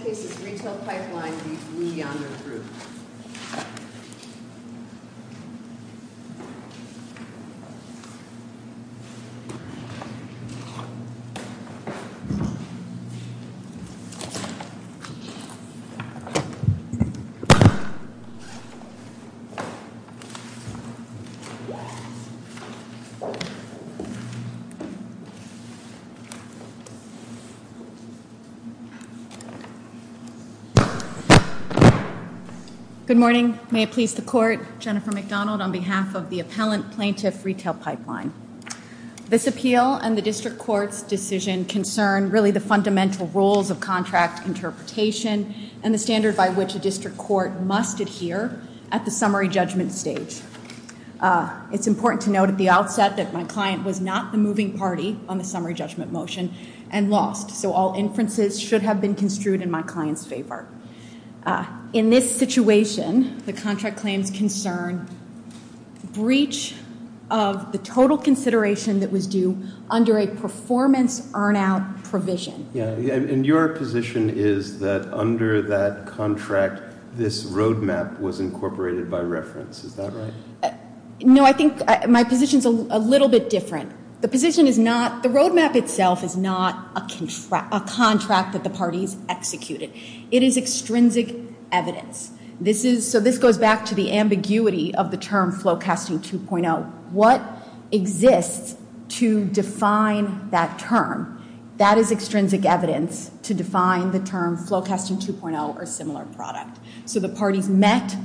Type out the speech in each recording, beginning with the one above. JDA Software Group, Inc. Good morning. May it please the Court, Jennifer McDonald on behalf of the Appellant Plaintiff Retail Pipeline. This appeal and the District Court's decision concern really the fundamental rules of contract interpretation and the standard by which a district court must adhere at the summary judgment stage. It's important to note at the outset that my client was not the moving party on the summary judgment motion and lost, so all inferences should have been construed in my client's favor. In this situation, the contract claims concern breach of the total consideration that was due under a performance earn-out provision. And your position is that under that contract, this roadmap was incorporated by reference. Is that right? No, I think my position is a little bit different. The position is not, the roadmap itself is not a contract that the parties executed. It is extrinsic evidence. This is, so this goes back to the ambiguity of the term Flowcasting 2.0. What exists to define that term? That is extrinsic evidence to define the term Flowcasting 2.0 or similar product. So the parties met.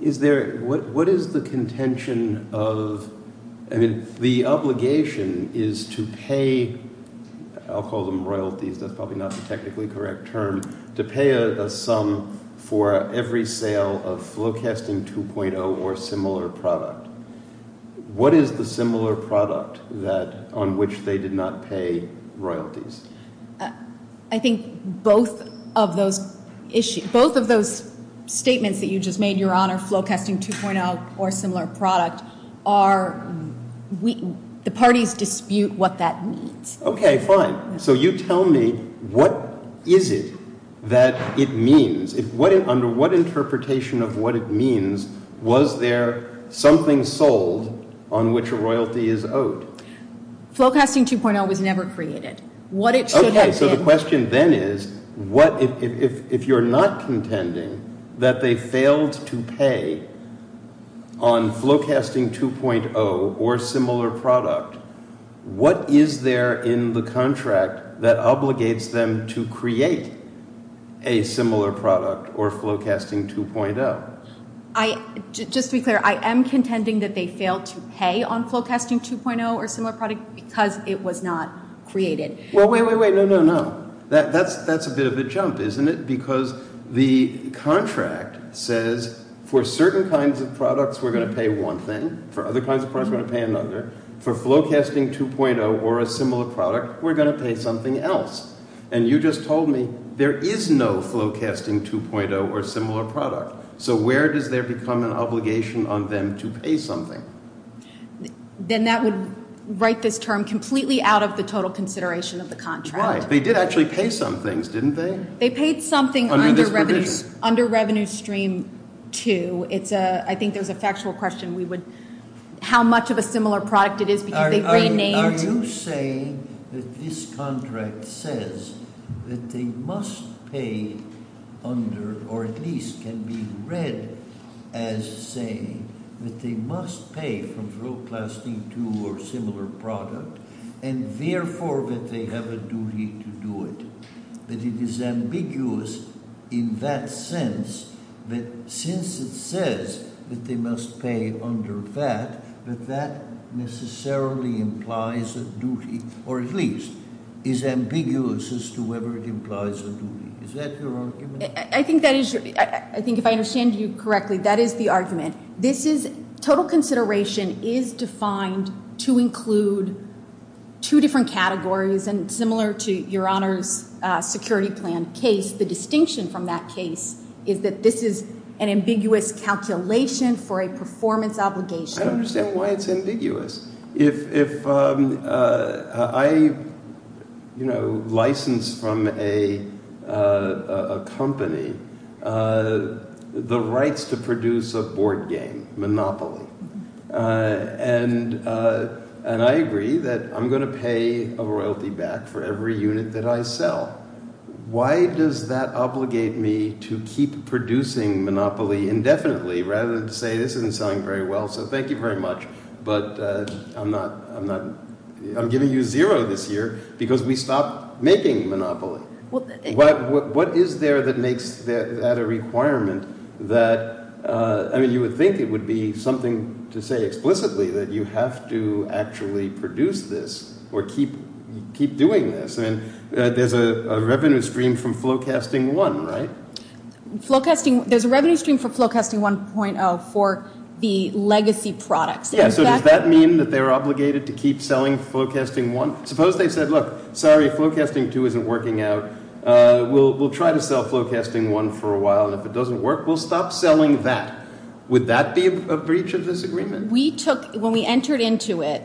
Is there, what is the contention of, I mean, the obligation is to pay, I'll call them royalties, that's probably not the technically correct term, to pay as a sum for every sale of Flowcasting 2.0 or similar product. What is the similar product that, on which they did not pay royalties? I think both of those statements that you just made, Your Honor, Flowcasting 2.0 or similar product, are, the parties dispute what that means. Okay, fine. So you tell me, what is it that it means? Under what interpretation of what it means, was there something sold on which a royalty is owed? Flowcasting 2.0 was never created. What it should have been... Okay, so the question then is, what, if you're not contending that they failed to pay on Flowcasting 2.0 or similar product, what is there in the contract that obligates them to create a similar product or Flowcasting 2.0? Just to be clear, I am contending that they failed to pay on Flowcasting 2.0 or similar product because it was not created. Well, wait, wait, wait, no, no, no. That's a bit of a jump, isn't it? Because the contract says, for certain kinds of products we're going to pay one thing, for other kinds of products we're going to pay another. For Flowcasting 2.0 or a similar product, we're going to pay something else. And you just told me there is no Flowcasting 2.0 or similar product. So where does there become an obligation on them to pay something? Then that would write this term completely out of the total consideration of the contract. Right. They did actually pay some things, didn't they? They paid something under Revenue Stream 2. I think there's a factual question. How much of a similar product it is because they put a name... Are you saying that this contract says that they must pay under, or at least can be read as saying that they must pay for Flowcasting 2.0 or similar product, and therefore that they have a duty to do it? That it is ambiguous in that sense that since it says that they must pay under that, that that necessarily implies a duty, or at least is ambiguous as to whether it implies a duty. Is that your argument? I think if I understand you correctly, that is the argument. Total consideration is defined to include two different categories, and similar to Your Honor's security plan case, the distinction from that case is that this is an ambiguous calculation for a performance obligation. I understand why it's ambiguous. If I license from a company the rights to produce a board game, Monopoly, and I agree that I'm going to pay a royalty back for every unit that I sell, why does that obligate me to keep producing Monopoly indefinitely rather than say this has been selling very well, so thank you very much, but I'm giving you zero this year because we stopped making Monopoly. What is there that makes that a requirement that... I mean, you would think it would be something to say explicitly that you have to actually produce this or keep doing this, and there's a revenue stream from Flowcasting 1, right? There's a revenue stream for Flowcasting 1.0 for the legacy product. Yeah, so does that mean that they're obligated to keep selling Flowcasting 1? Suppose they said, look, sorry, Flowcasting 2 isn't working out. We'll try to sell Flowcasting 1 for a while. If it doesn't work, we'll stop selling that. Would that be a breach of this agreement? We took, when we entered into it,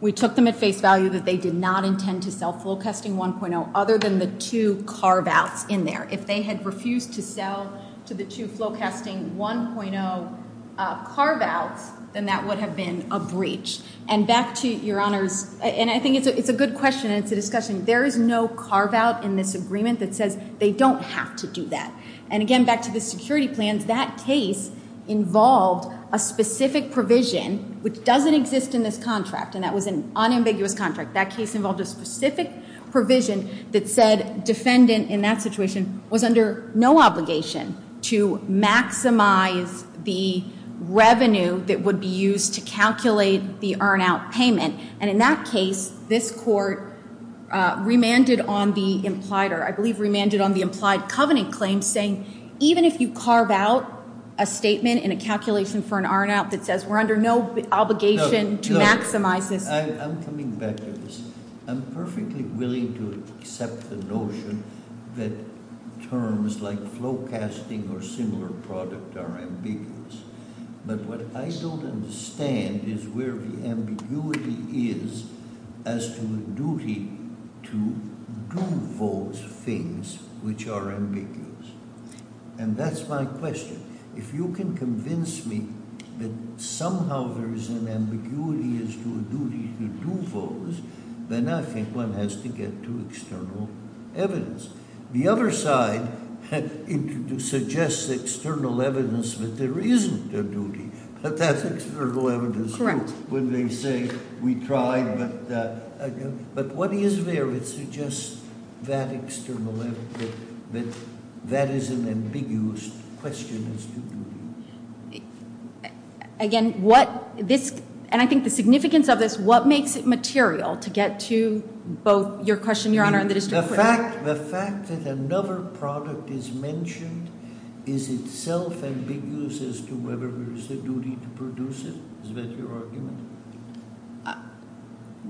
we took them at face value that they did not intend to sell Flowcasting 1.0 other than the two carve-outs in there. If they had refused to sell to the two Flowcasting 1.0 carve-outs, then that would have been a breach, and back to your honors, and I think it's a good question and it's a discussion, there is no carve-out in this agreement that says they don't have to do that, and again, back to the security plans, that case involved a specific provision which doesn't exist in this contract, and that was an unambiguous contract. That case involved a specific provision that said defendant in that situation was under no obligation to maximize the revenue that would be used to calculate the earn-out payment, and in that case, this court remanded on the implied covenant claim, saying even if you carve out a statement in a calculation for an earn-out that says we're under no obligation to maximize it. I'm coming back to this. I'm perfectly willing to accept the notion that terms like Flowcasting or similar products are ambiguous, but what I still don't understand is where the ambiguity is as to the duty to do those things which are ambiguous, and that's my question. If you can convince me that somehow there is an ambiguity as to the duty to do those, then I think one has to get to external evidence. The other side suggests external evidence that there is a duty, but that's external evidence when they say we tried, but what is there that suggests that external evidence that that is an ambiguous question as to the duty? Again, what this, and I think the significance of this, what makes it material to get to both your question, Your Honor, and the district court? The fact that another product is mentioned is itself ambiguous as to whether there is a duty to produce it, is that your argument?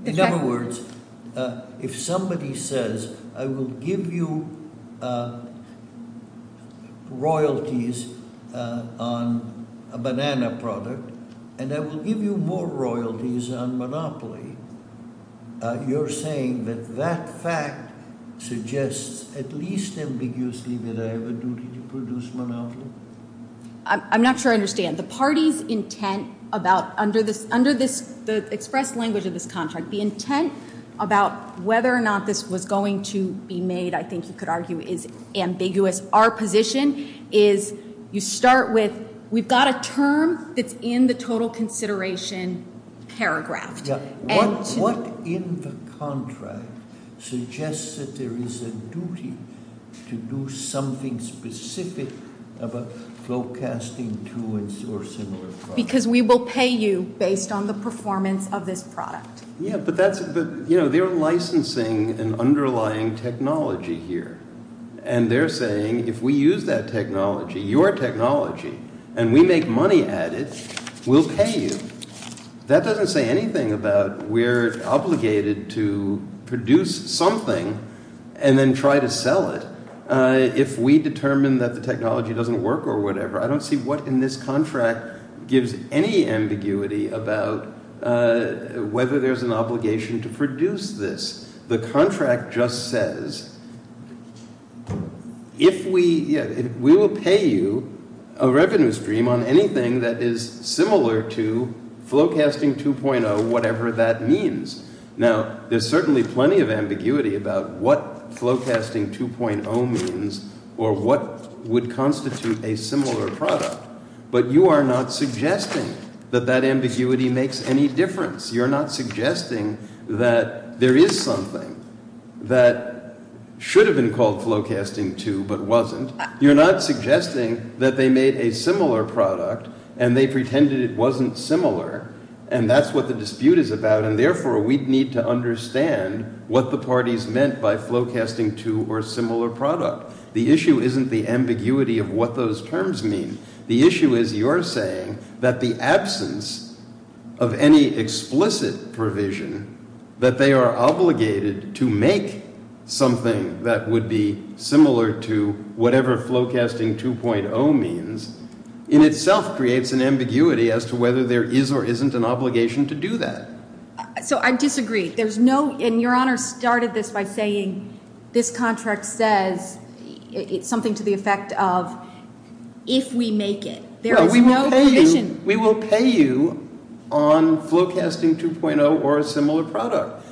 In other words, if somebody says, I will give you royalties on a banana product, and I will give you more royalties on Monopoly, you're saying that that fact suggests at least ambiguously that I have a duty to produce Monopoly? I'm not sure I understand. The party's intent about, under the express language of this contract, the intent about whether or not this was going to be made, I think you could argue, is ambiguous. Our position is you start with, we've got a term that's in the total consideration paragraph. What in the contract suggests that there is a duty to do something specific about forecasting towards or similar products? Because we will pay you based on the performance of this product. Yeah, but they're licensing an underlying technology here, and they're saying if we use that technology, your technology, and we make money at it, we'll pay you. That doesn't say anything about we're obligated to produce something and then try to sell it if we determine that the technology doesn't work or whatever. I don't see what in this contract gives any ambiguity about whether there's an obligation to produce this. The contract just says, we will pay you a revenue stream on anything that is similar to forecasting 2.0, whatever that means. Now, there's certainly plenty of ambiguity about what flowcasting 2.0 means or what would constitute a similar product, but you are not suggesting that that ambiguity makes any difference. You're not suggesting that there is something that should have been called flowcasting 2 but wasn't. You're not suggesting that they made a similar product and they pretended it wasn't similar, and that's what the dispute is about, and therefore, we'd need to understand what the parties meant by flowcasting 2 or similar product. The issue isn't the ambiguity of what those terms mean. The issue is you're saying that the absence of any explicit provision that they are obligated to make something that would be similar to whatever flowcasting 2.0 means in itself creates an ambiguity as to whether there is or isn't an obligation to do that. I disagree. Your Honor started this by saying this contract says something to the effect of, if we make it, there are no conditions. We will pay you on flowcasting 2.0 or a similar product,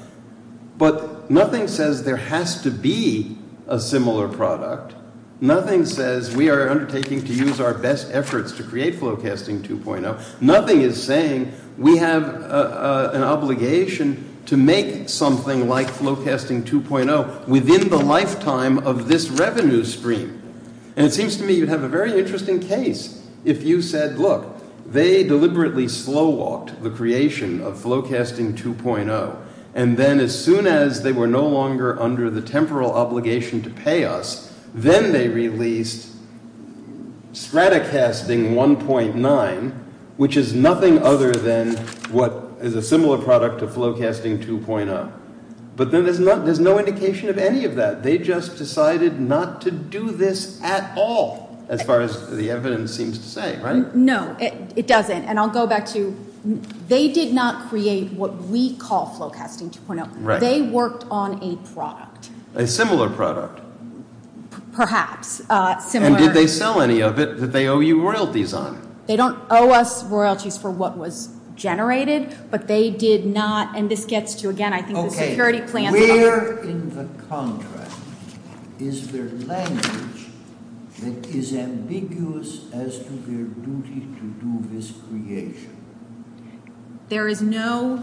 but nothing says there has to be a similar product. Nothing says we are undertaking to use our best efforts to create flowcasting 2.0. Nothing is saying we have an obligation to make something like flowcasting 2.0 within the lifetime of this revenue stream, and it seems to me you have a very interesting case if you said, look, they deliberately slow-walked the creation of flowcasting 2.0, and then as soon as they were no longer under the temporal obligation to pay us, then they released Stratocasting 1.9, which is nothing other than what is a similar product to flowcasting 2.0. But then there's no indication of any of that. They just decided not to do this at all, as far as the evidence seems to say, right? No, it doesn't. And I'll go back to, they did not create what we call flowcasting 2.0. They worked on a product. A similar product. Perhaps. And did they sell any of it? Did they owe you royalties on it? They don't owe us royalties for what was generated, but they did not, and this gets to, again, I think the security plan. Where in the contract is there language that is ambiguous as to their duty to do this creation? There is no,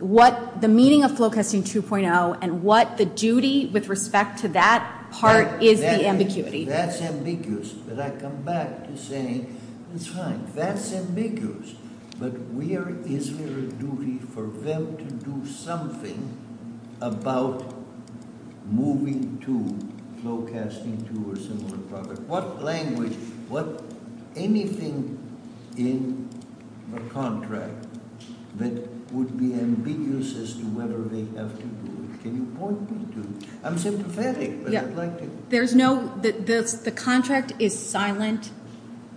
what, the meaning of flowcasting 2.0 and what the duty with respect to that part is the ambiguity. That's ambiguous, but I come back to saying, that's fine, that's ambiguous, but where is their duty for them to do something about moving to, flowcasting to a similar product? What language, what, anything in the contract that would be ambiguous as to whether they have to do it? Can you point me to it? I'm sympathetic, but I'd like to... There's no, the contract is silent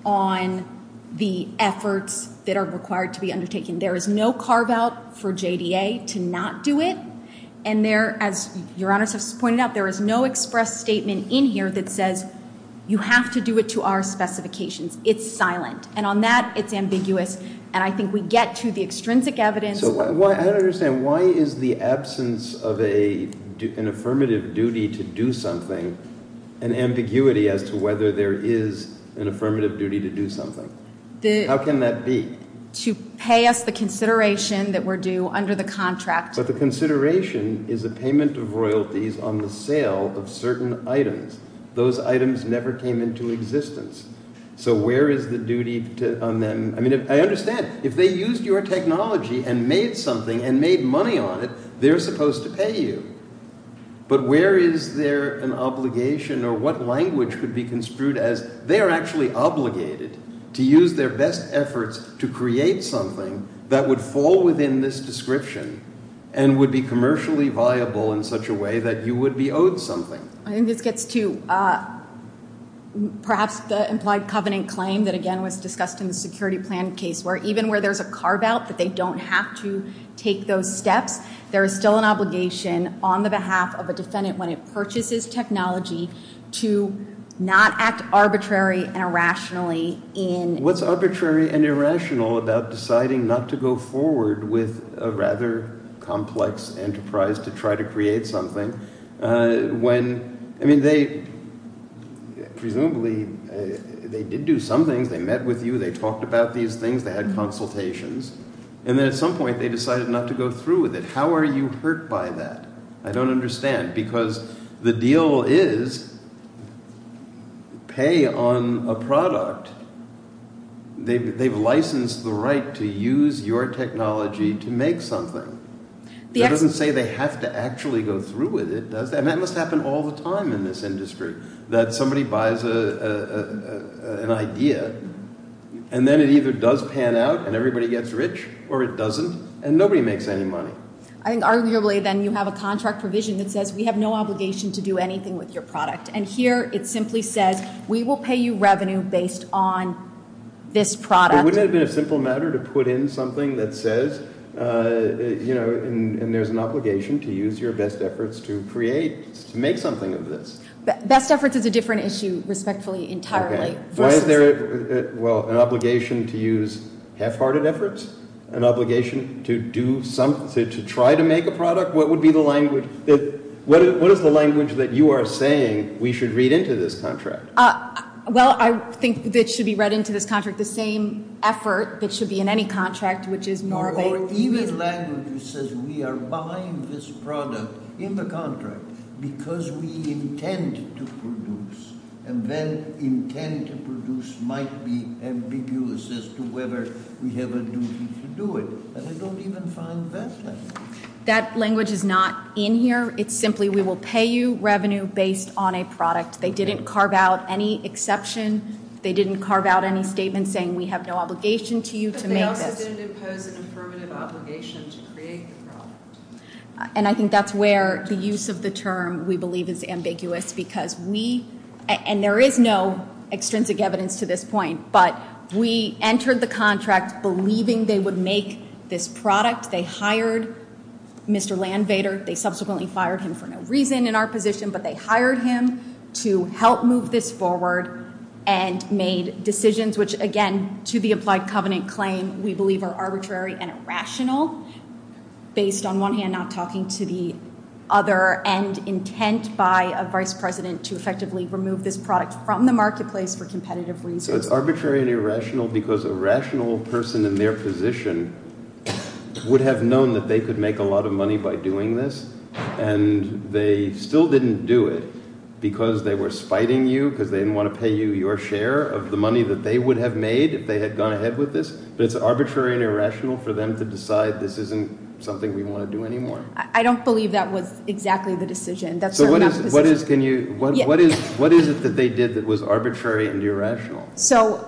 on the efforts that are required to be undertaken. There is no carve out for JDA to not do it, and there, as Your Honor has pointed out, there is no express statement in here that says you have to do it to our specifications. It's silent, and on that, it's ambiguous, and I think we get to the extrinsic evidence... I don't understand. Why is the absence of an affirmative duty to do something an ambiguity as to whether there is an affirmative duty to do something? How can that be? To pay us the consideration that we're due under the contract. But the consideration is the payment of royalties on the sale of certain items. Those items never came into existence, so where is the duty on them? I understand. If they used your technology and made something and made money on it, they're supposed to pay you. But where is there an obligation or what language could be construed as they're actually obligated to use their best efforts to create something that would fall within this description and would be commercially viable in such a way that you would be owed something. I think this gets to perhaps the implied covenant claim that again was discussed in the security plan case where even where there's a carve-out that they don't have to take those steps, there's still an obligation on behalf of a defendant when it purchases technology to not act arbitrary and irrationally in... What's arbitrary and irrational about deciding not to go forward with a rather complex enterprise to try to create something when, I mean, they presumably, they did do something, they met with you, they talked about these things, they had consultations, and then at some point they decided not to go through with it. How are you hurt by that? I don't understand. Because the deal is pay on a product. They've licensed the right to use your technology to make something. It doesn't say they have to actually go through with it, does it? And that must happen all the time in this industry, that somebody buys an idea and then it either does pan out and everybody gets rich, or it doesn't, and nobody makes any money. Arguably then you have a contract provision that says we have no obligation to do anything with your product. And here it simply says we will pay you revenue based on this product. It wouldn't have been a simple matter to put in something that says, you know, and there's an obligation to use your best efforts to create, to make something of this. Best efforts is a different issue, respectfully, entirely. Why is there, well, an obligation to use half-hearted efforts? An obligation to do something, to try to make a product? What would be the language that, what is the language that you are saying we should read into this contract? Well, I think that it should be read into this contract the same effort that should be in any contract, which is Norway. Or even language that says we are buying this product in the contract because we intend to produce, and then intent to produce might be ambiguous as to whether we have a duty to do it. And I don't even find that language. That language is not in here. It's simply we will pay you revenue based on a product. They didn't carve out any exception. They didn't carve out any statement saying we have no obligation to you to make it. Why then because of the affirmative obligation to create the product? And I think that's where the use of the term we believe is ambiguous because we, and there is no extrinsic evidence to this point, but we entered the contract believing they would make this product. They hired Mr. Landvater. They subsequently fired him for no reason in our position, but they hired him to help move this forward and made decisions, which again to the applied covenant claim we believe are arbitrary and irrational based on one hand not talking to the other, and intent by a vice president to effectively remove this product from the marketplace for competitive reasons. So it's arbitrary and irrational because a rational person in their position would have known that they could make a lot of money by doing this, and they still didn't do it because they were spying you because they didn't want to pay you your share of the money that they would have made if they had gone ahead with this. It's arbitrary and irrational for them to decide this isn't something we want to do anymore. I don't believe that was exactly the decision. So what is it that they did that was arbitrary and irrational? So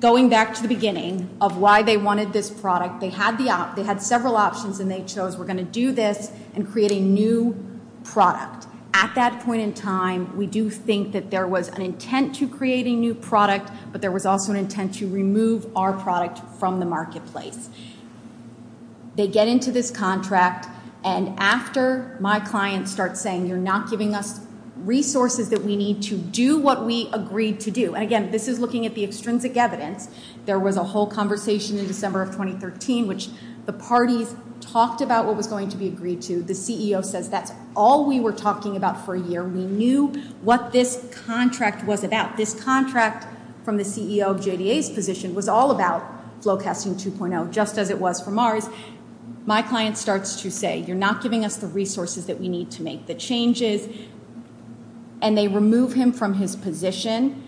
going back to the beginning of why they wanted this product, they had several options and they chose we're going to do this and create a new product. Now at that point in time we do think that there was an intent to create a new product, but there was also an intent to remove our product from the marketplace. They get into this contract and after my client starts saying you're not giving us resources that we need to do what we agreed to do, and again this is looking at the extrinsic evidence, there was a whole conversation in December of 2013 which the parties talked about what was going to be agreed to. The CEO says that's all we were talking about for a year. We knew what this contract was about. This contract from the CEO of JDA's position was all about Flowcasting 2.0 just as it was from ours. My client starts to say you're not giving us the resources that we need to make the changes and they remove him from his position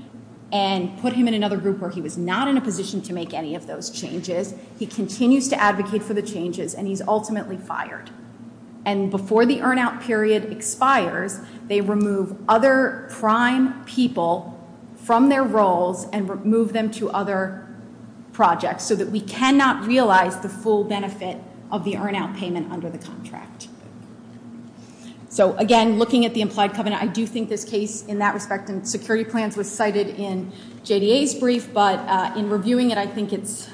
and put him in another group where he was not in a position to make any of those changes. He continues to advocate for the changes and he's ultimately fired. And before the earn-out period expires, they remove other prime people from their roles and move them to other projects so that we cannot realize the full benefit of the earn-out payment under the contract. So again, looking at the implied covenant, I do think this case in that respect in security plans was cited in JDA's brief, but in reviewing it, I think it's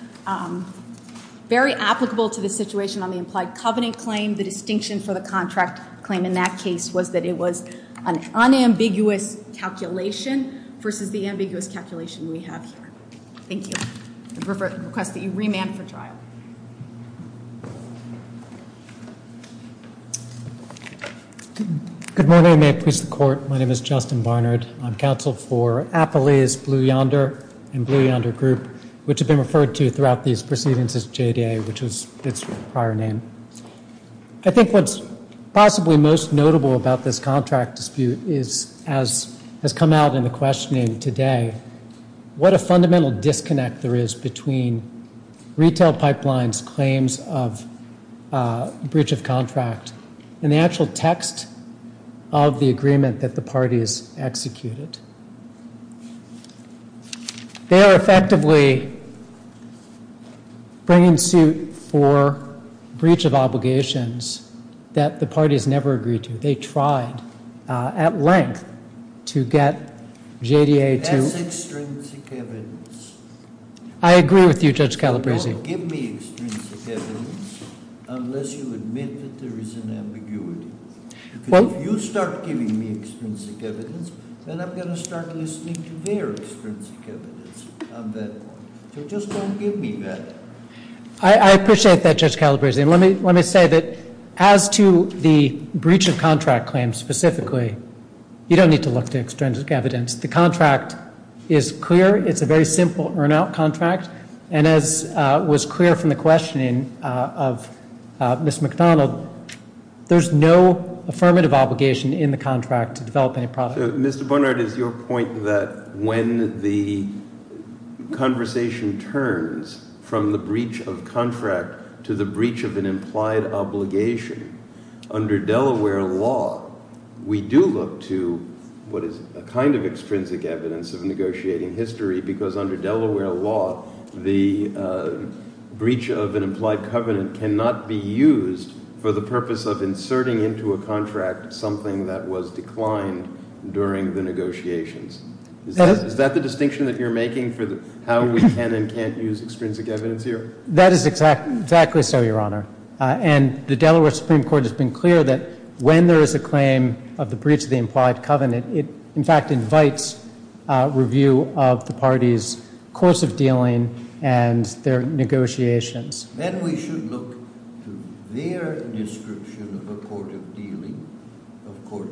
very applicable to the situation on the implied covenant claim. The distinction for the contract claim in that case was that it was an unambiguous calculation versus the ambiguous calculation we have. Thank you. I request that you remand for trial. Good morning. May it please the Court. My name is Justin Barnard. I'm counsel for Applea's Blue Yonder and Blue Yonder Group, which have been referred to throughout these proceedings as JDA, which is its prior name. I think what's possibly most notable about this contract dispute is, as has come out in the questioning today, what a fundamental disconnect there is between retail pipelines' claims of breach of contract and the actual text of the agreement that the parties executed. They are effectively bringing suit for breach of obligations that the parties never agreed to. They tried at length to get JDA to— That's extremes of evidence. I agree with you, Judge Calabresi. Don't give me extremes of evidence unless you admit that there is an ambiguity. If you start giving me extremes of evidence, then I'm going to start listening to their extremes of evidence on that one. So just don't give me that. I appreciate that, Judge Calabresi. Let me say that as to the breach of contract claim specifically, you don't need to look to extremes of evidence. The contract is clear. It's a very simple earn-out contract. And as was clear from the questioning of Ms. McDonald, there's no affirmative obligation in the contract to develop any product. Mr. Barnard, it's your point that when the conversation turns from the breach of contract to the breach of an implied obligation, under Delaware law, we do look to what is a kind of extrinsic evidence of negotiating history because under Delaware law, the breach of an implied covenant cannot be used for the purpose of inserting into a contract something that was declined during the negotiations. Is that the distinction that you're making for how we can and can't use extrinsic evidence here? That is exactly so, Your Honor. And the Delaware Supreme Court has been clear that when there is a claim of the breach of the implied covenant, it, in fact, invites review of the parties' course of dealing and their negotiations. Then we should look to their description of the course of dealing, of course,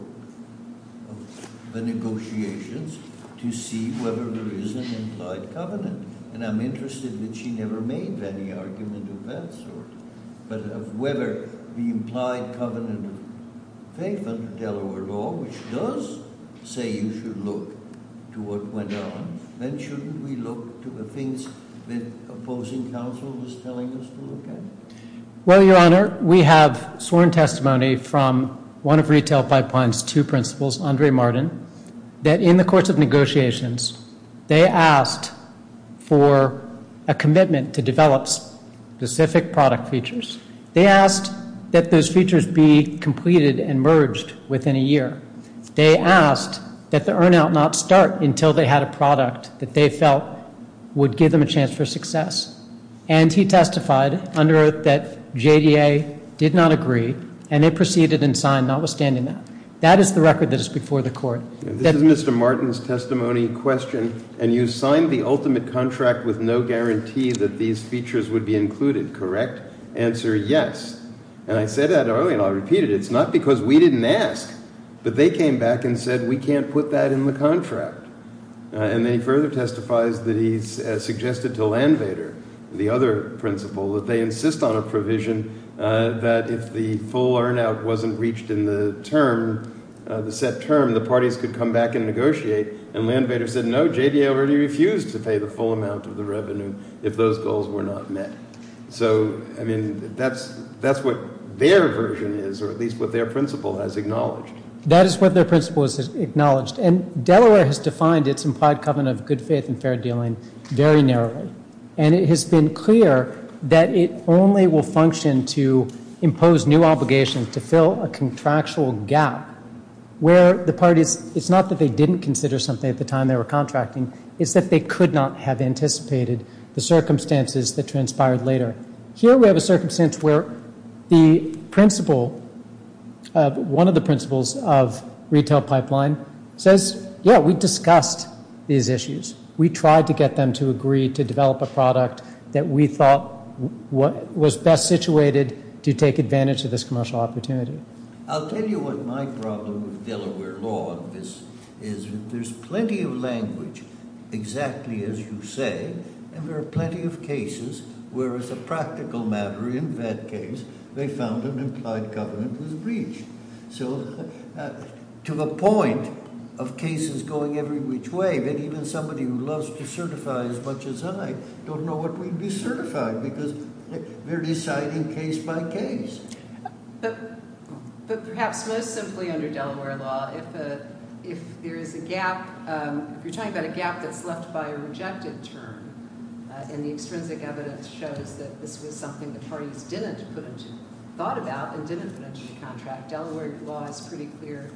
the negotiations, to see whether there is an implied covenant. And I'm interested that she never made any argument of that sort, but of whether the implied covenant thing under Delaware law, which does say you should look to what went on, then shouldn't we look to the things that opposing counsel is telling us to look at? Well, Your Honor, we have sworn testimony from one of Retail Pipeline's two principals, They asked for a commitment to develop specific product features. They asked that those features be completed and merged within a year. They asked that the earn-out not start until they had a product that they felt would give them a chance for success. And he testified under it that JDA did not agree, and it proceeded in sign notwithstanding that. This is Mr. Martin's testimony and question. And you signed the ultimate contract with no guarantee that these features would be included, correct? Answer is yes. And I said that earlier, and I'll repeat it. It's not because we didn't ask, but they came back and said we can't put that in the contract. And then he further testifies that he suggested to Landvater, the other principal, that they insist on a provision that if the full earn-out wasn't reached in the term, the set term, the parties could come back and negotiate. And Landvater said no, JDA already refused to pay the full amount of the revenue if those goals were not met. So, I mean, that's what their version is, or at least what their principal has acknowledged. That is what their principal has acknowledged. And Delaware has defined its implied covenant of good faith and fair dealing very narrowly. And it has been clear that it only will function to impose new obligations to fill a contractual gap where the parties, it's not that they didn't consider something at the time they were contracting, it's that they could not have anticipated the circumstances that transpired later. Here we have a circumstance where the principal, one of the principals of retail pipeline says, yeah, we discussed these issues. We tried to get them to agree to develop a product that we thought was best situated to take advantage of this commercial opportunity. I'll tell you what my problem with Delaware law is. There's plenty of language, exactly as you say, and there are plenty of cases where it's a practical matter. In that case, they found an implied covenant was reached. So, to the point of cases going every which way, maybe even somebody who loves to certify as much as I don't know what we'd be certifying because they're deciding case by case. So, perhaps most simply under Delaware law, if there's a gap, you're talking about a gap that's left by a rejected term, and the extrinsic evidence shows that this was something the parties didn't have thought about and didn't mention contract. Delaware's law is pretty clear.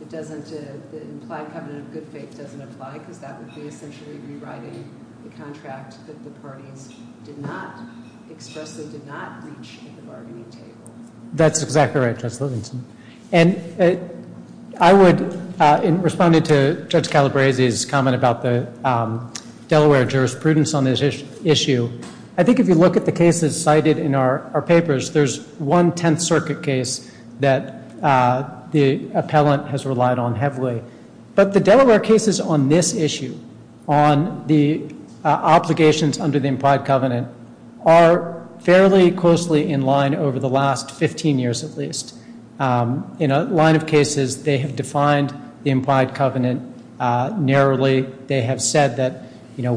It doesn't imply covenant of good faith. It doesn't imply that that was the institution that was rewriting the contract that the parties did not express or did not reach in the bargaining table. That's exactly right, Judge Wilkinson. And I would, in responding to Judge Calabresi's comment about the Delaware jurisprudence on this issue, I think if you look at the cases cited in our papers, there's one Tenth Circuit case that the appellant has relied on heavily. But the Delaware cases on this issue, on the obligations under the implied covenant, are fairly closely in line over the last 15 years at least. In a line of cases, they have defined the implied covenant narrowly. They have said that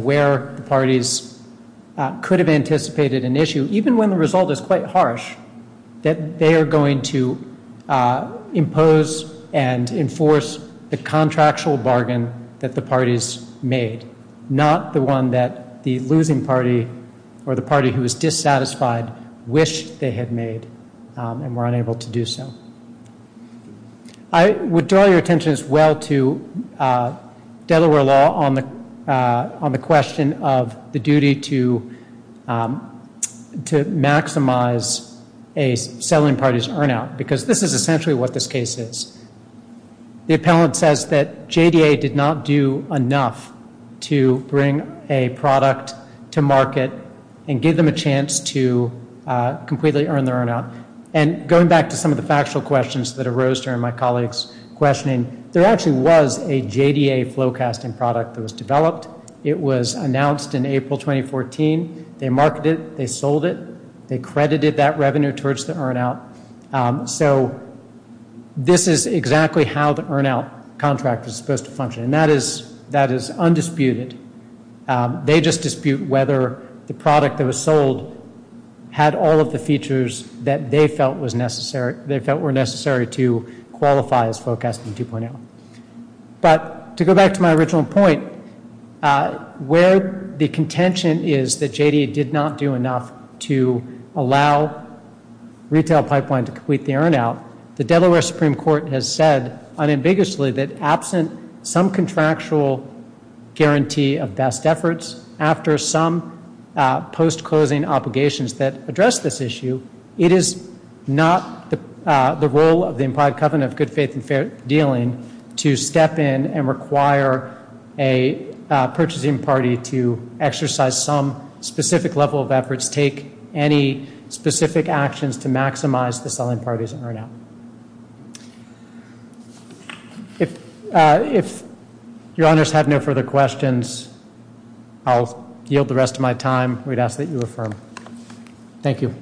where the parties could have anticipated an issue, even when the result is quite harsh, that they are going to impose and enforce a contractual bargain that the parties made, not the one that the losing party or the party who is dissatisfied wish they had made and were unable to do so. I would draw your attention as well to Delaware law on the question of the duty to maximize a selling party's earn-out, because this is essentially what this case is. The appellant says that JDA did not do enough to bring a product to market and give them a chance to completely earn their earn-out. And going back to some of the factual questions that arose during my colleagues' questioning, there actually was a JDA Flowcasting product that was developed. It was announced in April 2014. They marketed it. They sold it. They credited that revenue towards the earn-out. So this is exactly how the earn-out contract was supposed to function, and that is undisputed. They just dispute whether the product that was sold had all of the features that they felt were necessary to qualify as Flowcasting 2.0. But to go back to my original point, where the contention is that JDA did not do enough to allow retail pipeline to complete the earn-out, the Delaware Supreme Court has said unambiguously that absent some contractual guarantee of best efforts, after some post-closing obligations that address this issue, it is not the role of the implied covenant of good faith and fair dealing to step in and require a purchasing party to exercise some specific level of efforts, take any specific actions to maximize the selling party's earn-out. If your honors have no further questions, I'll yield the rest of my time. We'd ask that you affirm. Thank you. Thank you.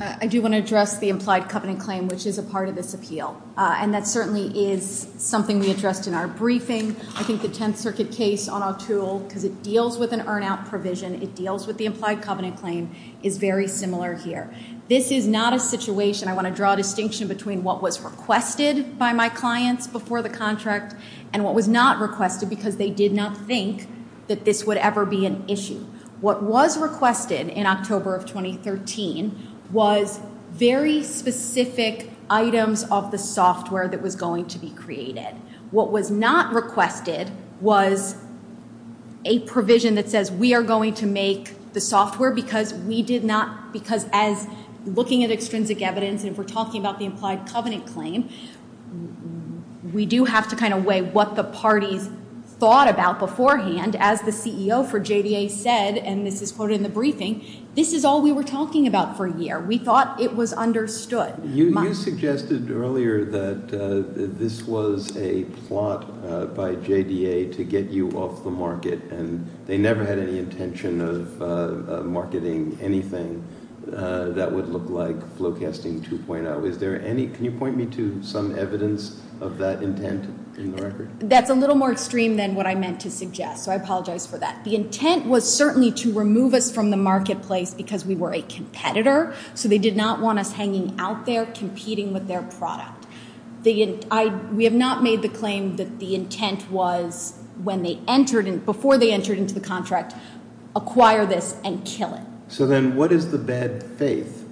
I do want to address the implied covenant claim, which is a part of this appeal. And that certainly is something we addressed in our briefing. I think the Tenth Circuit case on our tools, because it deals with an earn-out provision, it deals with the implied covenant claim, is very similar here. This is not a situation, I want to draw a distinction between what was requested by my clients before the contract and what was not requested because they did not think that this would ever be an issue. What was requested in October of 2013 was very specific items of the software that was going to be created. What was not requested was a provision that says we are going to make the software because we did not, because as looking at extrinsic evidence and if we're talking about the implied covenant claim, we do have to kind of weigh what the parties thought about beforehand. As the CEO for JDA said, and this is quoted in the briefing, this is all we were talking about for a year. We thought it was understood. You suggested earlier that this was a plot by JDA to get you off the market, and they never had any intention of marketing anything that would look like Flowcasting 2.0. Can you point me to some evidence of that intent? That's a little more extreme than what I meant to suggest, so I apologize for that. The intent was certainly to remove us from the marketplace because we were a competitor, so they did not want us hanging out there competing with their product. We have not made the claim that the intent was before they entered into the contract, acquire this and kill it. So then what is the bad faith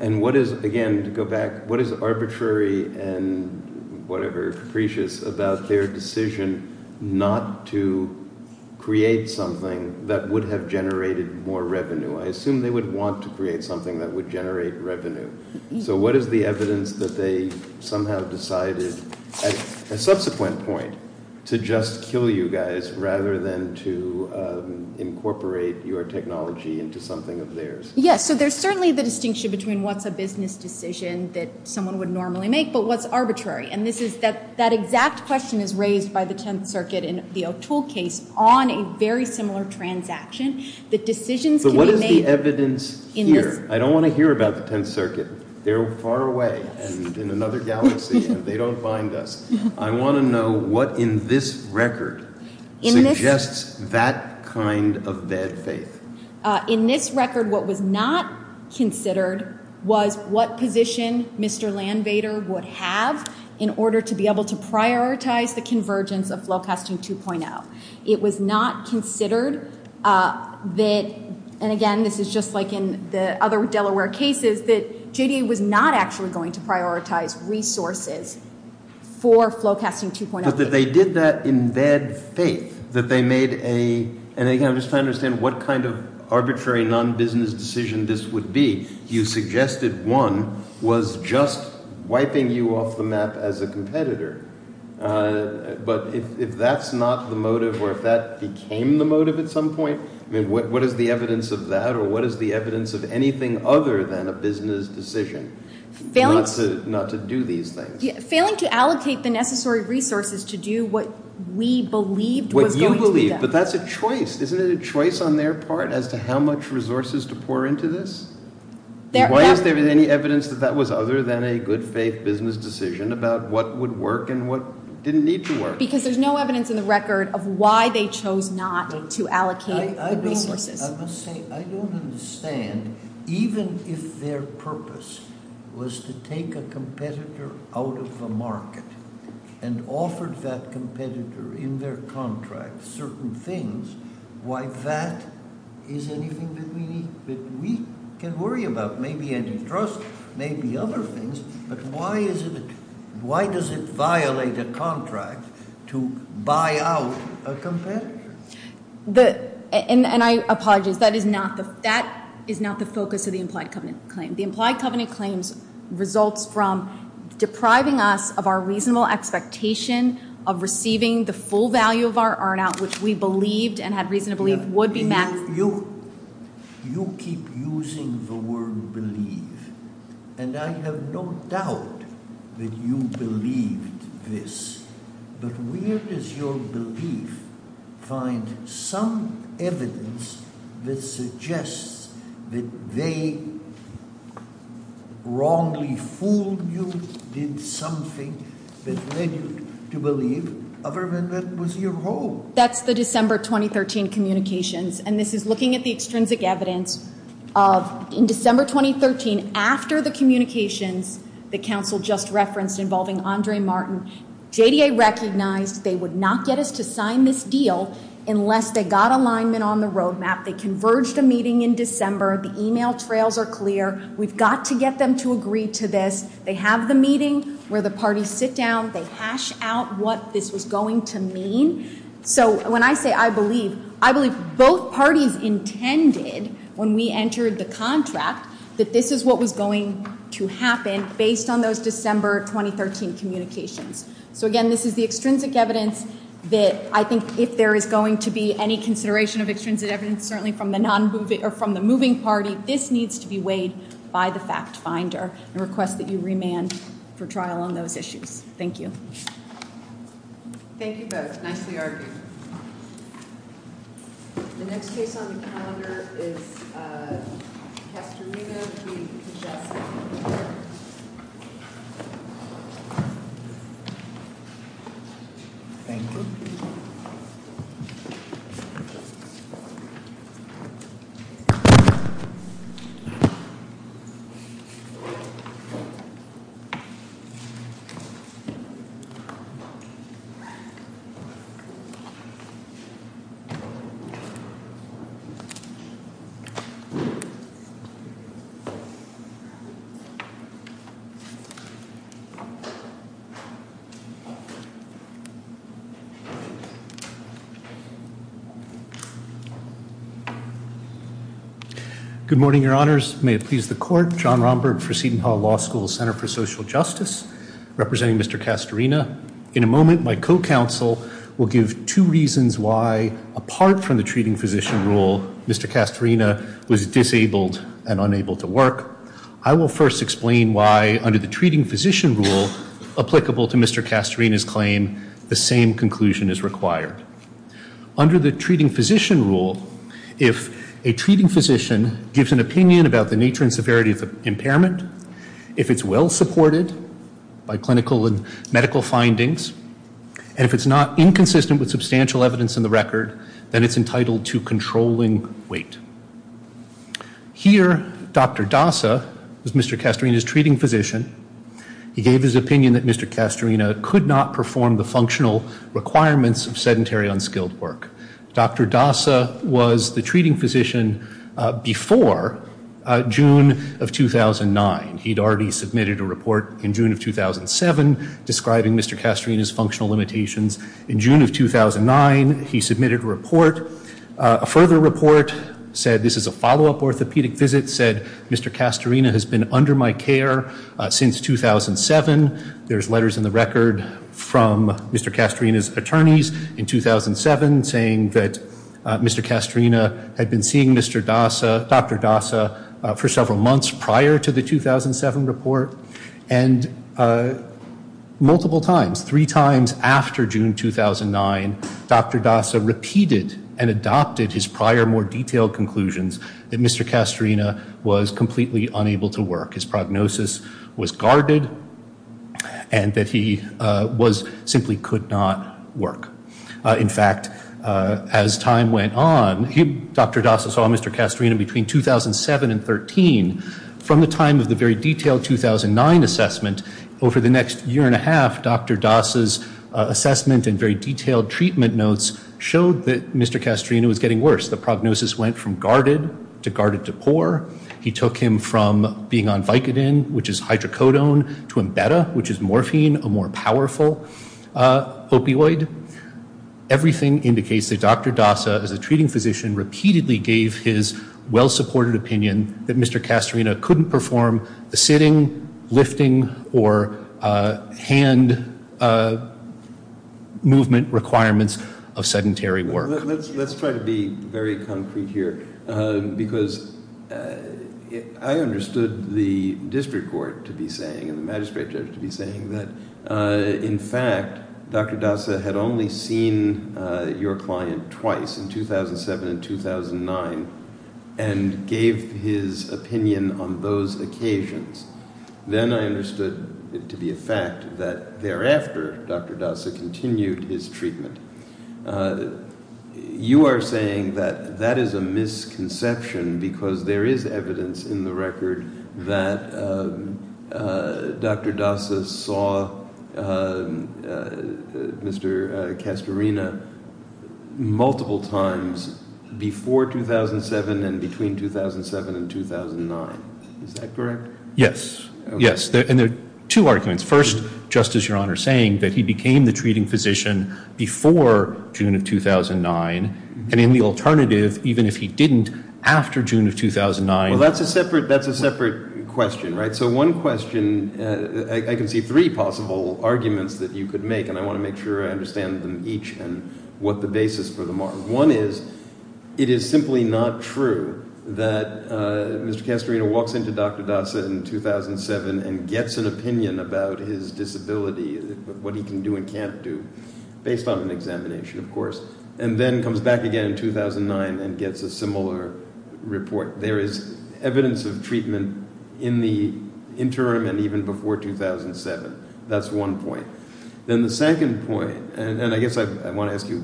and what is, again, to go back, what is arbitrary and whatever capricious about their decision not to create something that would have generated more revenue? I assume they would want to create something that would generate revenue. So what is the evidence that they somehow decided at a subsequent point to just kill you guys rather than to incorporate your technology into something of theirs? Yes, so there's certainly the distinction between what's a business decision that someone would normally make but what's arbitrary, and that exact question is raised by the Tenth Circuit in a field tool case on a very similar transaction. But what is the evidence here? I don't want to hear about the Tenth Circuit. They're far away and in another galaxy, and they don't find us. I want to know what in this record suggests that kind of bad faith. In this record, what was not considered was what position Mr. Landvater would have in order to be able to prioritize the convergence of low-cost 2.0. It was not considered that, and again, this is just like in the other Delaware cases, that JDA was not actually going to prioritize resources for Flowcasting 2.0. But that they did that in bad faith, that they made a... And again, I'm just trying to understand what kind of arbitrary non-business decision this would be. You suggested one was just wiping you off the map as a competitor, but if that's not the motive or if that became the motive at some point, what is the evidence of that or what is the evidence of anything other than a business decision not to do these things? Failing to allocate the necessary resources to do what we believed was going to be best. What you believe, but that's a choice. Isn't it a choice on their part as to how much resources to pour into this? Why isn't there any evidence that that was other than a good faith business decision about what would work and what didn't need to work? Because there's no evidence in the record of why they chose not to allocate the resources. I must say, I don't understand. Even if their purpose was to take a competitor out of the market and offer that competitor in their contract certain things, why that is anything that we can worry about? Maybe any trust, maybe other things, but why does it violate a contract? To buy out a competitor. And I apologize, that is not the focus of the implied covenant claim. The implied covenant claim results from depriving us of our reasonable expectation of receiving the full value of our earn out, which we believed and had reason to believe would be maximum. You keep using the word believe, and I have no doubt that you believe this, but where does your belief find some evidence that suggests that they wrongly fooled you, did something that led you to believe other than that was your role? That's the December 2013 communications, and this is looking at the extrinsic evidence. In December 2013, after the communications the council just referenced involving Andre Martin, JDA recognized they would not get us to sign this deal unless they got alignment on the roadmap. They converged a meeting in December. The email trails are clear. We've got to get them to agree to this. They have the meeting where the parties sit down. They hash out what this is going to mean. When I say I believe, I believe both parties intended when we entered the contract that this is what was going to happen based on those December 2013 communications. Again, this is the extrinsic evidence that I think if there is going to be any consideration of extrinsic evidence, certainly from the moving party, this needs to be weighed by the fact finder and request that you remand for trial on those issues. Thank you. Thank you both. Nicely argued. The next case on the calendar is Dr. Rivas v. Pichot. Good morning, your honors. May it please the court. John Romberg for Seton Hall Law School Center for Social Justice representing Mr. Castorina. In a moment, my co-counsel will give two reasons why apart from the treating physician rule, Mr. Castorina was disabled and unable to work. I will first explain why under the treating physician rule applicable to Mr. Castorina's claim, the same conclusion is required. Under the treating physician rule, if a treating physician gives an opinion about the nature and severity of impairment, if it's well supported by clinical and medical findings, and if it's not inconsistent with substantial evidence in the record, then it's entitled to controlling weight. Here, Dr. Dasa, Mr. Castorina's treating physician, he gave his opinion that Mr. Castorina could not perform the functional requirements of sedentary unskilled work. Dr. Dasa was the treating physician before June of 2009. He'd already submitted a report in June of 2007 describing Mr. Castorina's functional limitations. In June of 2009, he submitted a report. A further report said this is a follow-up orthopedic visit, said Mr. Castorina has been under my care since 2007. There's letters in the record from Mr. Castorina's attorneys in 2007 saying that Mr. Castorina had been seeing Dr. Dasa for several months prior to the 2007 report, and multiple times, three times after June 2009, Dr. Dasa repeated and adopted his prior more detailed conclusions that Mr. Castorina was completely unable to work. His prognosis was guarded and that he simply could not work. In fact, as time went on, Dr. Dasa saw Mr. Castorina between 2007 and 2013. From the time of the very detailed 2009 assessment, over the next year and a half, Dr. Dasa's assessment and very detailed treatment notes showed that Mr. Castorina was getting worse. The prognosis went from guarded to guarded to poor. He took him from being on Vicodin, which is hydrocodone, to Embedda, which is morphine, a more powerful opioid. Everything indicates that Dr. Dasa, as a treating physician, repeatedly gave his well-supported opinion that Mr. Castorina couldn't perform the sitting, lifting, or hand movement requirements of sedentary work. Let's try to be very concrete here because I understood the district court to be saying and the magistrate judge to be saying that, in fact, Dr. Dasa had only seen your client twice, in 2007 and 2009, and gave his opinion on those occasions. Then I understood it to be a fact that thereafter Dr. Dasa continued his treatment. You are saying that that is a misconception because there is evidence in the record that Dr. Dasa saw Mr. Castorina multiple times before 2007 and between 2007 and 2009. Is that correct? Yes. Yes. And there are two arguments. First, Justice, Your Honor, saying that he became the treating physician before June of 2009 and in the alternative, even if he didn't, after June of 2009. Well, that's a separate question, right? So one question, I can see three possible arguments that you could make, One is, it is simply not true that Mr. Castorina walks into Dr. Dasa in 2007 and gets an opinion about his disability, what he can do and can't do, based on an examination, of course, and then comes back again in 2009 and gets a similar report. There is evidence of treatment in the interim and even before 2007. That's one point. Then the second point, and I guess I want to ask you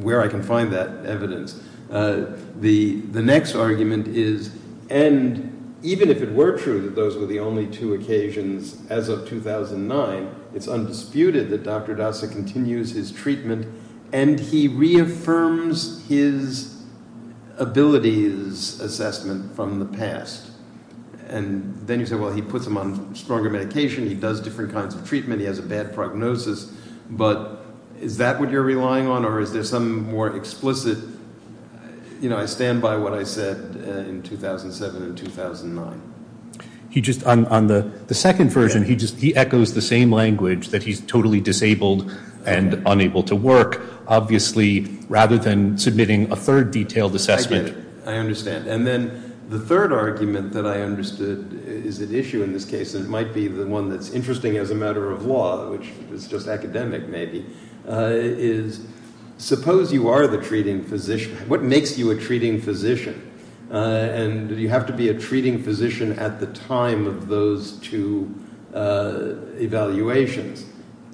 where I can find that evidence, the next argument is, and even if it were true that those were the only two occasions as of 2009, it's undisputed that Dr. Dasa continues his treatment and he reaffirms his abilities assessment from the past. And then you say, well, he puts him on stronger medication, he does different kinds of treatment, he has a bad prognosis, but is that what you're relying on or is there something more explicit? You know, I stand by what I said in 2007 and 2009. On the second version, he echoes the same language, that he's totally disabled and unable to work, obviously, rather than submitting a third detailed assessment. I understand. And then the third argument that I understood is at issue in this case, and it might be the one that's interesting as a matter of law, which is just academic maybe, is suppose you are the treating physician. What makes you a treating physician? And do you have to be a treating physician at the time of those two evaluations?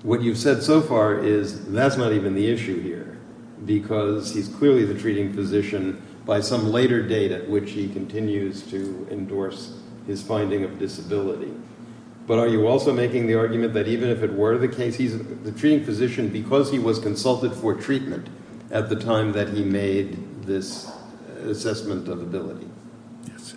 What you've said so far is that's not even the issue here because he's clearly the treating physician by some later date at which he continues to endorse his finding of disability. But are you also making the argument that even if it were the case, he's the treating physician because he was consulted for treatment at the time that he made this assessment of ability?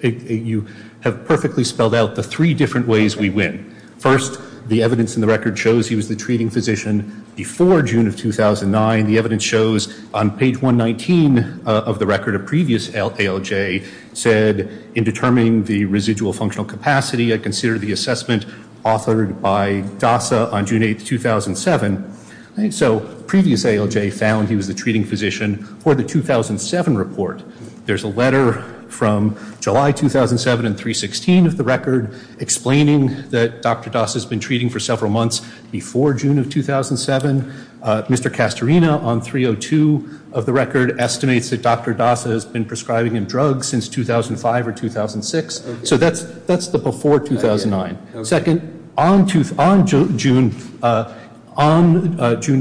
You have perfectly spelled out the three different ways we win. First, the evidence in the record shows he was the treating physician before June of 2009. The evidence shows on page 119 of the record a previous ALJ said, in determining the residual functional capacity, I consider the assessment authored by DASA on June 8, 2007. So previous ALJ found he was the treating physician for the 2007 report. There's a letter from July 2007 in 316 of the record explaining that Dr. DASA has been treating for several months before June of 2007. Mr. Castorina, on 302 of the record, estimates that Dr. DASA has been prescribing him drugs since 2005 or 2006. So that's the before 2009. Second, on June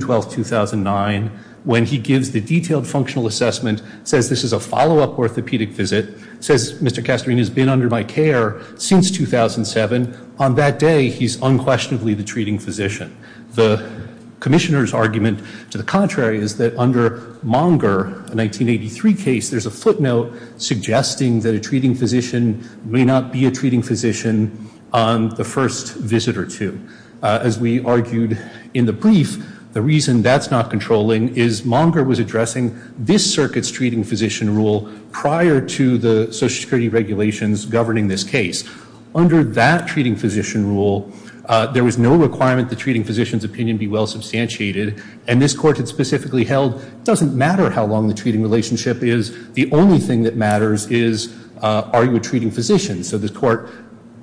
12, 2009, when he gives the detailed functional assessment, says this is a follow-up orthopedic visit, says Mr. Castorina has been under my care since 2007, on that day he's unquestionably the treating physician. The commissioner's argument, to the contrary, is that under Monger, a 1983 case, there's a footnote suggesting that a treating physician may not be a treating physician on the first visit or two. As we argued in the brief, the reason that's not controlling is Monger was addressing this circuit's treating physician rule prior to the Social Security regulations governing this case. Under that treating physician rule, there was no requirement the treating physician's opinion be well substantiated. And this court had specifically held it doesn't matter how long the treating relationship is, the only thing that matters is are you a treating physician? So this court,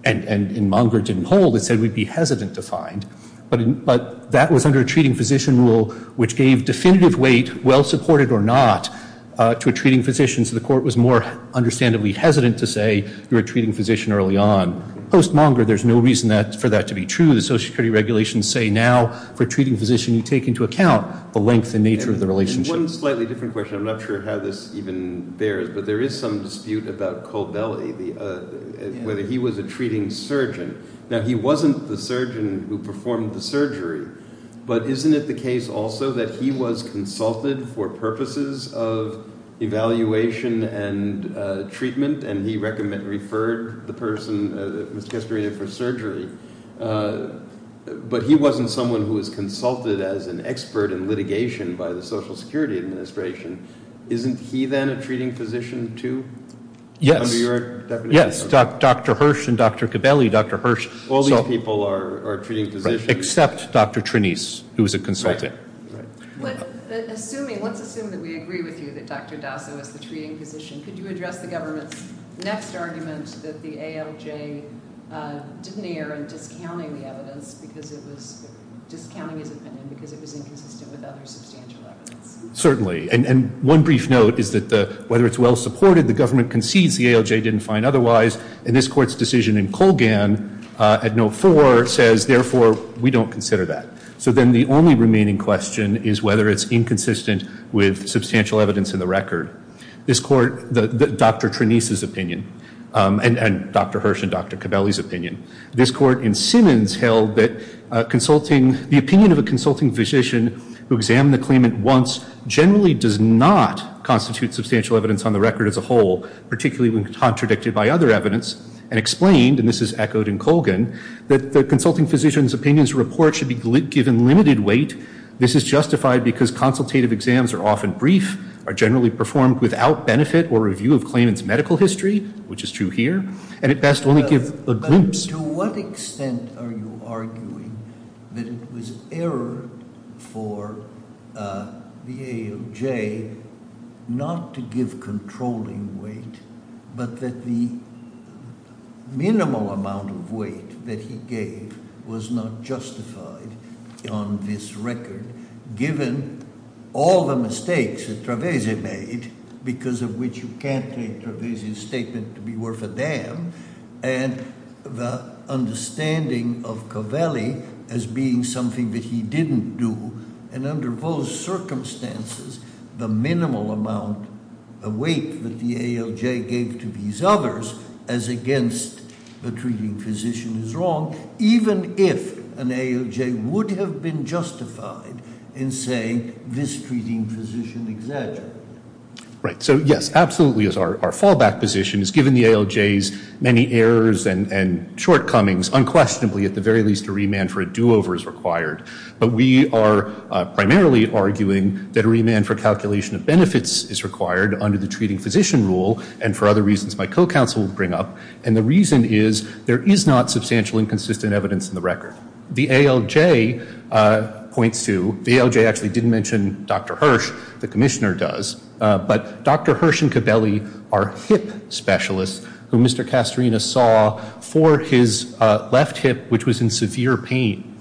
and Monger didn't hold, it said we'd be hesitant to find. But that was under a treating physician rule which gave definitive weight, well-supported or not, to a treating physician. So the court was more understandably hesitant to say you're a treating physician early on. Post Monger, there's no reason for that to be true. The Social Security regulations say now for a treating physician, you take into account the length and nature of the relationship. One slightly different question. I'm not sure how this even bears, but there is some dispute about Colbelli, whether he was a treating surgeon. Now, he wasn't the surgeon who performed the surgery, but isn't it the case also that he was consulted for purposes of evaluation and treatment and he recommended, referred the person who was conscripted for surgery. But he wasn't someone who was consulted as an expert in litigation by the Social Security Administration. Isn't he then a treating physician too? Yes. Yes, Dr. Hirsch and Dr. Colbelli, Dr. Hirsch. All these people are treating physicians. Except Dr. Trenise, who's a consultant. But assuming, let's assume that we agree with you that Dr. Dawson was a treating physician, could you address the government's next argument that the ALJ didn't err in discounting the evidence because it was discounting the defendant because it was inconsistent with other substantial evidence? Certainly. And one brief note is that whether it's well-supported, the government concedes the ALJ didn't find otherwise. And this court's decision in Colgan at note four says, therefore, we don't consider that. So then the only remaining question is whether it's inconsistent with substantial evidence in the record. This court, Dr. Trenise's opinion, and Dr. Hirsch and Dr. Colbelli's opinion. This court in Simmons held that the opinion of a consulting physician who examined the claimant once generally does not constitute substantial evidence on the record as a whole, particularly when contradicted by other evidence and explained, and this is echoed in Colgan, that the consulting physician's opinion's report should be given limited weight. This is justified because consultative exams are often brief, are generally performed without benefit or review of claimant's medical history, which is true here, and at best only give the groups. But to what extent are you arguing that it was error for the ALJ not to give controlling weight, but that the minimal amount of weight that he gave was not justified on this record given all the mistakes that Trevesi made, because of which you can't claim Trevesi's statement to be worth a damn, and the understanding of Colbelli as being something that he didn't do. And under those circumstances, the minimal amount of weight that the ALJ gave to these others as against the treating physician is wrong, even if an ALJ would have been justified in saying this treating physician exaggerated. Right. So yes, absolutely is our fallback position, is given the ALJ's many errors and shortcomings, unquestionably at the very least a remand for a do-over is required. But we are primarily arguing that a remand for calculation of benefits is required under the treating physician rule, and for other reasons my co-counsel will bring up. And the reason is there is not substantial inconsistent evidence in the record. The ALJ points to, the ALJ actually didn't mention Dr. Hirsch, the commissioner does, but Dr. Hirsch and Colbelli are hip specialists who Mr. Castorina saw for his left hip, which was in severe pain.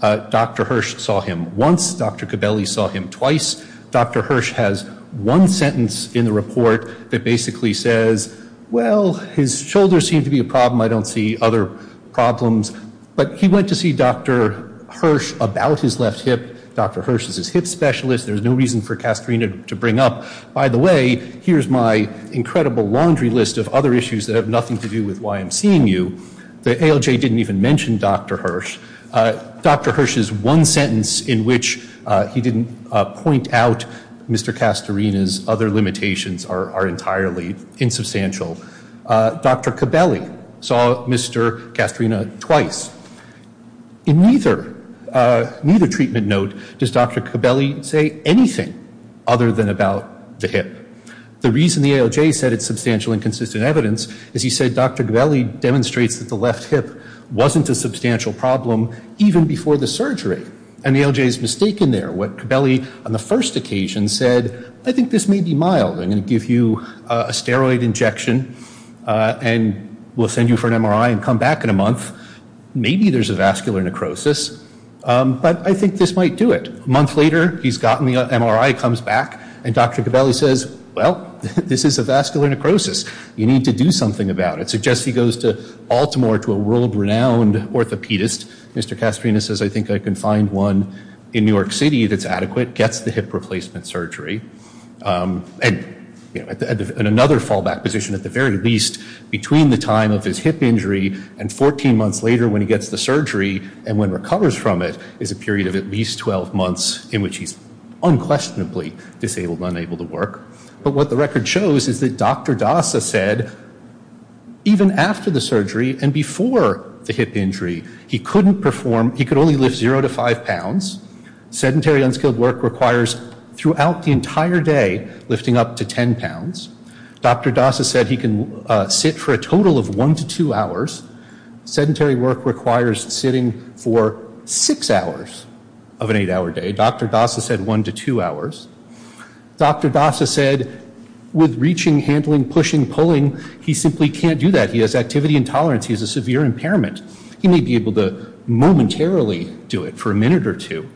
Dr. Hirsch saw him once. Dr. Colbelli saw him twice. Dr. Hirsch has one sentence in the report that basically says, well, his shoulders seem to be a problem. I don't see other problems. But he went to see Dr. Hirsch about his left hip. Dr. Hirsch is his hip specialist. There's no reason for Castorina to bring up, by the way, here's my incredible laundry list of other issues that have nothing to do with why I'm seeing you. The ALJ didn't even mention Dr. Hirsch. Dr. Hirsch's one sentence in which he didn't point out Mr. Castorina's other limitations are entirely insubstantial. Dr. Colbelli saw Mr. Castorina twice. In neither treatment note does Dr. Colbelli say anything other than about the hip. The reason the ALJ said it's substantial and consistent evidence is he said Dr. Colbelli demonstrates that the left hip wasn't a substantial problem even before the surgery. And the ALJ is mistaken there. What Colbelli, on the first occasion, said, I think this may be mild. I'm going to give you a steroid injection and we'll send you for an MRI and come back in a month. Maybe there's a vascular necrosis. But I think this might do it. A month later, he's gotten the MRI, comes back, and Dr. Colbelli says, well, this is a vascular necrosis. You need to do something about it. Suggests he goes to Baltimore to a world-renowned orthopedist. Mr. Castorina says, I think I can find one in New York City that's adequate, gets the hip replacement surgery. And another fallback position, at the very least, between the time of his hip injury and 14 months later when he gets the surgery and when he recovers from it, is a period of at least 12 months in which he's unquestionably disabled and unable to work. But what the record shows is that Dr. Dasa said even after the surgery and before the hip injury, he couldn't perform, he could only lift 0 to 5 pounds. Sedentary, unskilled work requires throughout the entire day lifting up to 10 pounds. Dr. Dasa said he can sit for a total of 1 to 2 hours. Sedentary work requires sitting for 6 hours of an 8-hour day. Dr. Dasa said 1 to 2 hours. Dr. Dasa said with reaching, handling, pushing, pulling, he simply can't do that. He has activity intolerance. He has a severe impairment. He may be able to momentarily do it for a minute or two,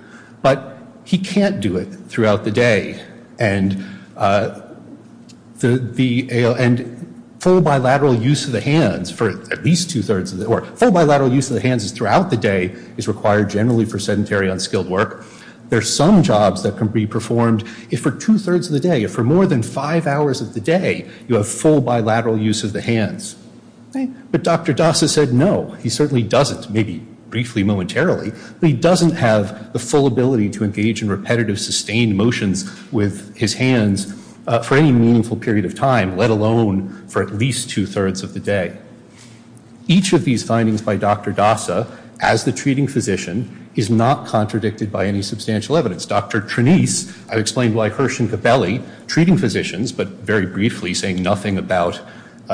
but he can't do it throughout the day. And full bilateral use of the hands for at least two-thirds of the work, full bilateral use of the hands throughout the day is required generally for sedentary, unskilled work. There are some jobs that can be performed if for two-thirds of the day, if for more than 5 hours of the day, you have full bilateral use of the hands. But Dr. Dasa said no. He certainly doesn't, maybe briefly momentarily, but he doesn't have the full ability to engage in repetitive, sustained motion with his hands for any meaningful period of time, let alone for at least two-thirds of the day. Each of these findings by Dr. Dasa, as the treating physician, is not contradicted by any substantial evidence. Dr. Trenise, I've explained why Hirsch and Capelli, treating physicians, but very briefly, saying nothing about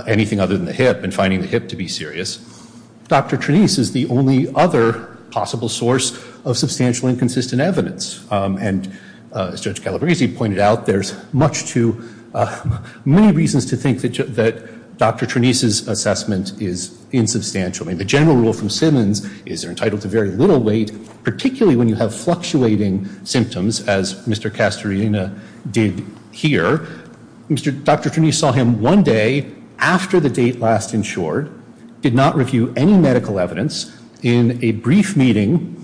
anything other than the hip and finding the hip to be serious. Dr. Trenise is the only other possible source of substantial inconsistent evidence. And as Dr. Calabresi pointed out, there's many reasons to think that Dr. Trenise's assessment is insubstantial. The general rule from Simmons is you're entitled to very little weight, particularly when you have fluctuating symptoms, as Mr. Castorina did here. Dr. Trenise saw him one day after the date last insured, did not review any medical evidence, in a brief meeting,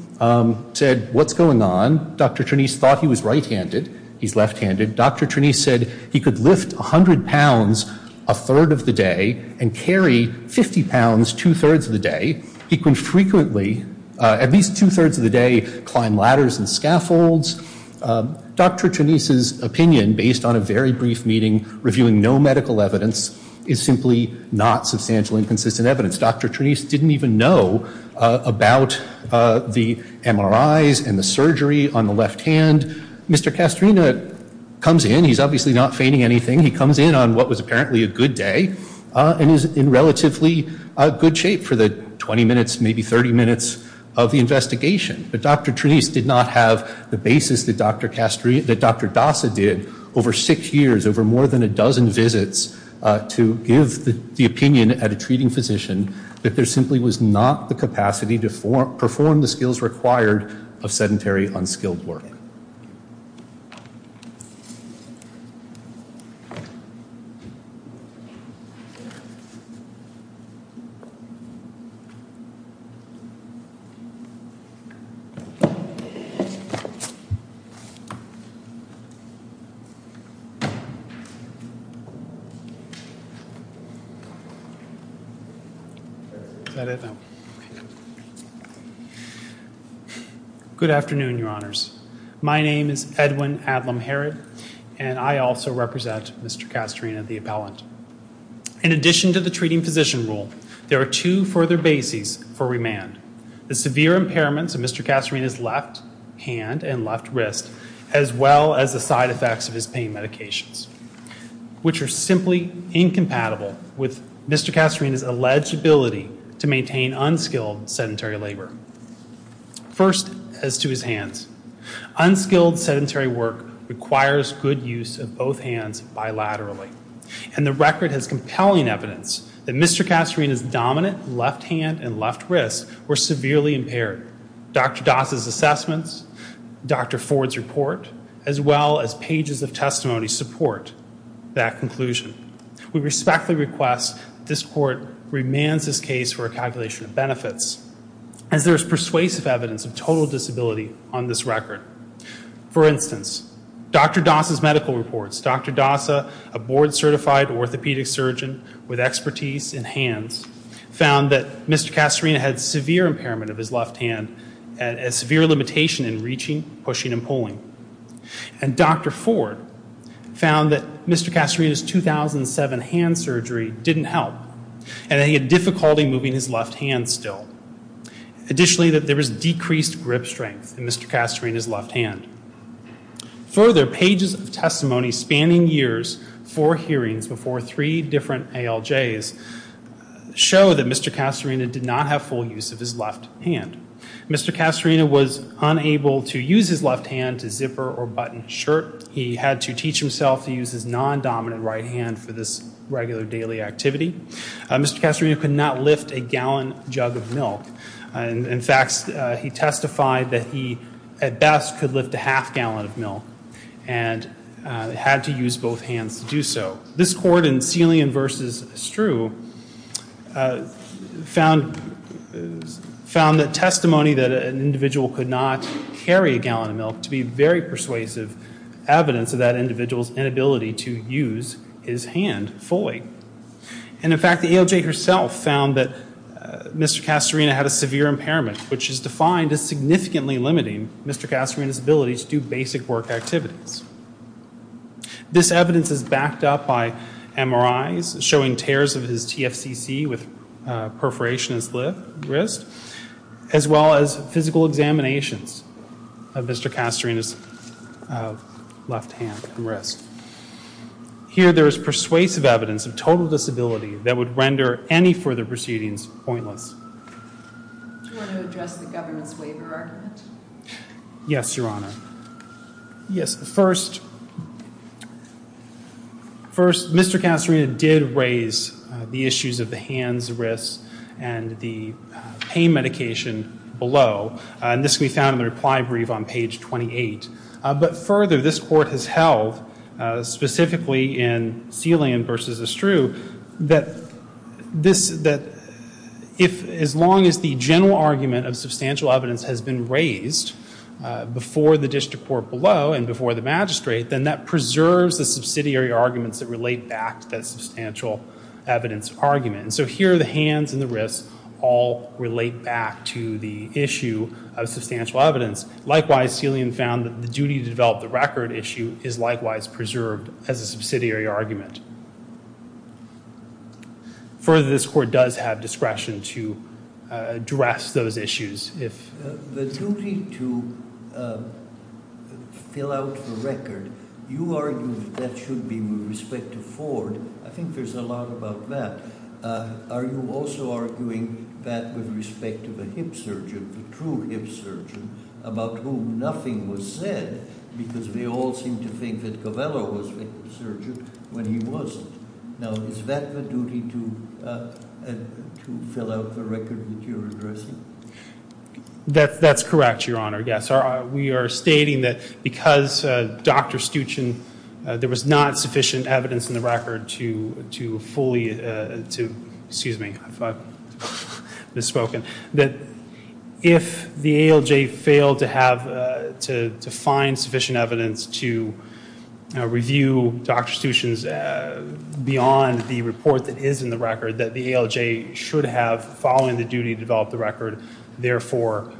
said, what's going on? Dr. Trenise thought he was right-handed. He's left-handed. Dr. Trenise said he could lift 100 pounds a third of the day and carry 50 pounds two-thirds of the day. He could frequently, at least two-thirds of the day, climb ladders and scaffolds. Dr. Trenise's opinion, based on a very brief meeting, reviewing no medical evidence, is simply not substantial and consistent evidence. Dr. Trenise didn't even know about the MRIs and the surgery on the left hand. Mr. Castorina comes in. He's obviously not feigning anything. He comes in on what was apparently a good day and is in relatively good shape for the 20 minutes, maybe 30 minutes of the investigation. But Dr. Trenise did not have the basis that Dr. Dassa did over six years, over more than a dozen visits, to give the opinion at a treating physician that there simply was not the capacity to perform the skills required of sedentary, unskilled work. Good afternoon, Your Honors. My name is Edwin Adlam Herod, and I also represent Mr. Castorina, the appellant. In addition to the treating physician rule, there are two further bases for remand. The severe impairments of Mr. Castorina's left hand and left wrist, as well as the side effects of his pain medications, which are simply incompatible with Mr. Castorina's alleged ability to maintain unskilled sedentary labor. First, as to his hands, unskilled sedentary work requires good use of both hands bilaterally, and the record has compelling evidence that Mr. Castorina's dominant left hand and left wrist were severely impaired. Dr. Dassa's assessments, Dr. Ford's report, as well as pages of testimony support that conclusion. We respectfully request this court remand this case for a calculation of benefits, as there is persuasive evidence of total disability on this record. For instance, Dr. Dassa's medical reports, Dr. Dassa, a board-certified orthopedic surgeon with expertise in hands, found that Mr. Castorina had severe impairment of his left hand and a severe limitation in reaching, pushing, and pulling. And Dr. Ford found that Mr. Castorina's 2007 hand surgery didn't help, and that he had difficulty moving his left hand still. Additionally, that there was decreased grip strength in Mr. Castorina's left hand. Further, pages of testimony spanning years for hearings before three different ALJs show that Mr. Castorina did not have full use of his left hand. Mr. Castorina was unable to use his left hand to zipper or button shirt. He had to teach himself to use his non-dominant right hand for this regular daily activity. Mr. Castorina could not lift a gallon jug of milk. In fact, he testified that he, at best, could lift a half gallon of milk, and had to use both hands to do so. This court in Celian v. Strew found the testimony that an individual could not carry a gallon of milk to be very persuasive evidence of that individual's inability to use his hand fully. And in fact, the ALJ herself found that Mr. Castorina had a severe impairment, which is defined as significantly limiting Mr. Castorina's ability to do basic work activities. This evidence is backed up by MRIs showing tears of his TFCC with perforation in his wrist, as well as physical examinations of Mr. Castorina's left hand and wrist. Here, there is persuasive evidence of total disability that would render any further proceedings pointless. Yes, Your Honor. Yes, first, Mr. Castorina did raise the issues of the hands, wrists, and the pain medication below. And this can be found in the reply brief on page 28. But further, this court has held, specifically in Celian v. Strew, that as long as the general argument of substantial evidence has been raised before the district court below and before the magistrate, then that preserves the subsidiary arguments that relate back to that substantial evidence argument. And so here, the hands and the wrists all relate back to the issue of substantial evidence. Likewise, Celian found that the duties of the record issue is likewise preserved as a subsidiary argument. Further, this court does have discretion to address those issues. The duty to fill out the record, you argue that should be with respect to Ford. I think there's a lot about that. Are you also arguing that with respect to the hip surgeon, the true hip surgeon, about whom nothing was said? Because we all seem to think that Covello was the hip surgeon when he wasn't. Now, is that the duty to fill out the record that you're addressing? That's correct, Your Honor. Yes. We are stating that because Dr. Stuchin, there was not sufficient evidence in the record to fully, excuse me, if I've misspoken, that if the ALJ failed to find sufficient evidence to review Dr. Stuchin's beyond the report that is in the record that the ALJ should have, following the duty to develop the record, therefore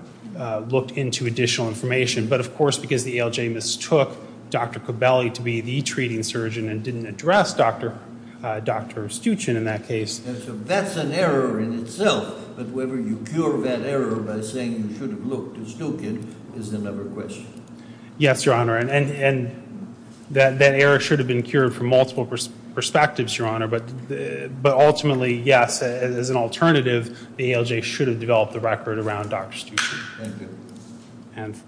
looked into additional information. But of course, because the ALJ mistook Dr. Covelli to be the treating surgeon and didn't address Dr. Stuchin in that case. So that's an error in itself. But whether you cure that error by saying you should have looked at Stuchin is another question. Yes, Your Honor. And that error should have been cured from multiple perspectives, Your Honor. But ultimately, yes, as an alternative, the ALJ should have developed the record around Dr. Stuchin. Thank you. And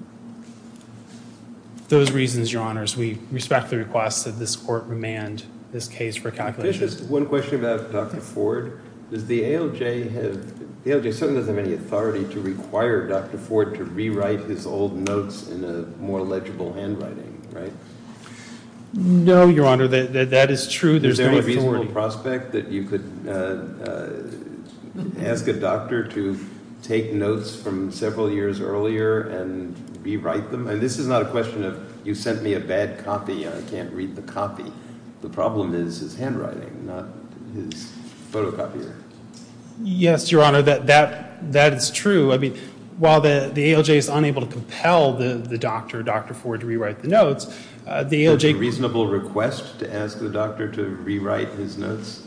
those reasons, Your Honors, we respect the request that this court remand this case for calculation. One question about Dr. Ford. Does the ALJ have, the ALJ certainly doesn't have any authority to require Dr. Ford to rewrite his old notes in a more legible handwriting, right? No, Your Honor, that is true. There's no reasonable prospect that you could ask a doctor to take notes from several years earlier and rewrite them. And this is not a question of you sent me a bad copy and I can't read the copy. The problem is his handwriting, not his photocopier. Yes, Your Honor, that is true. While the ALJ is unable to compel the doctor, Dr. Ford, to rewrite the notes, the ALJ could Is it a reasonable request to ask the doctor to rewrite his notes?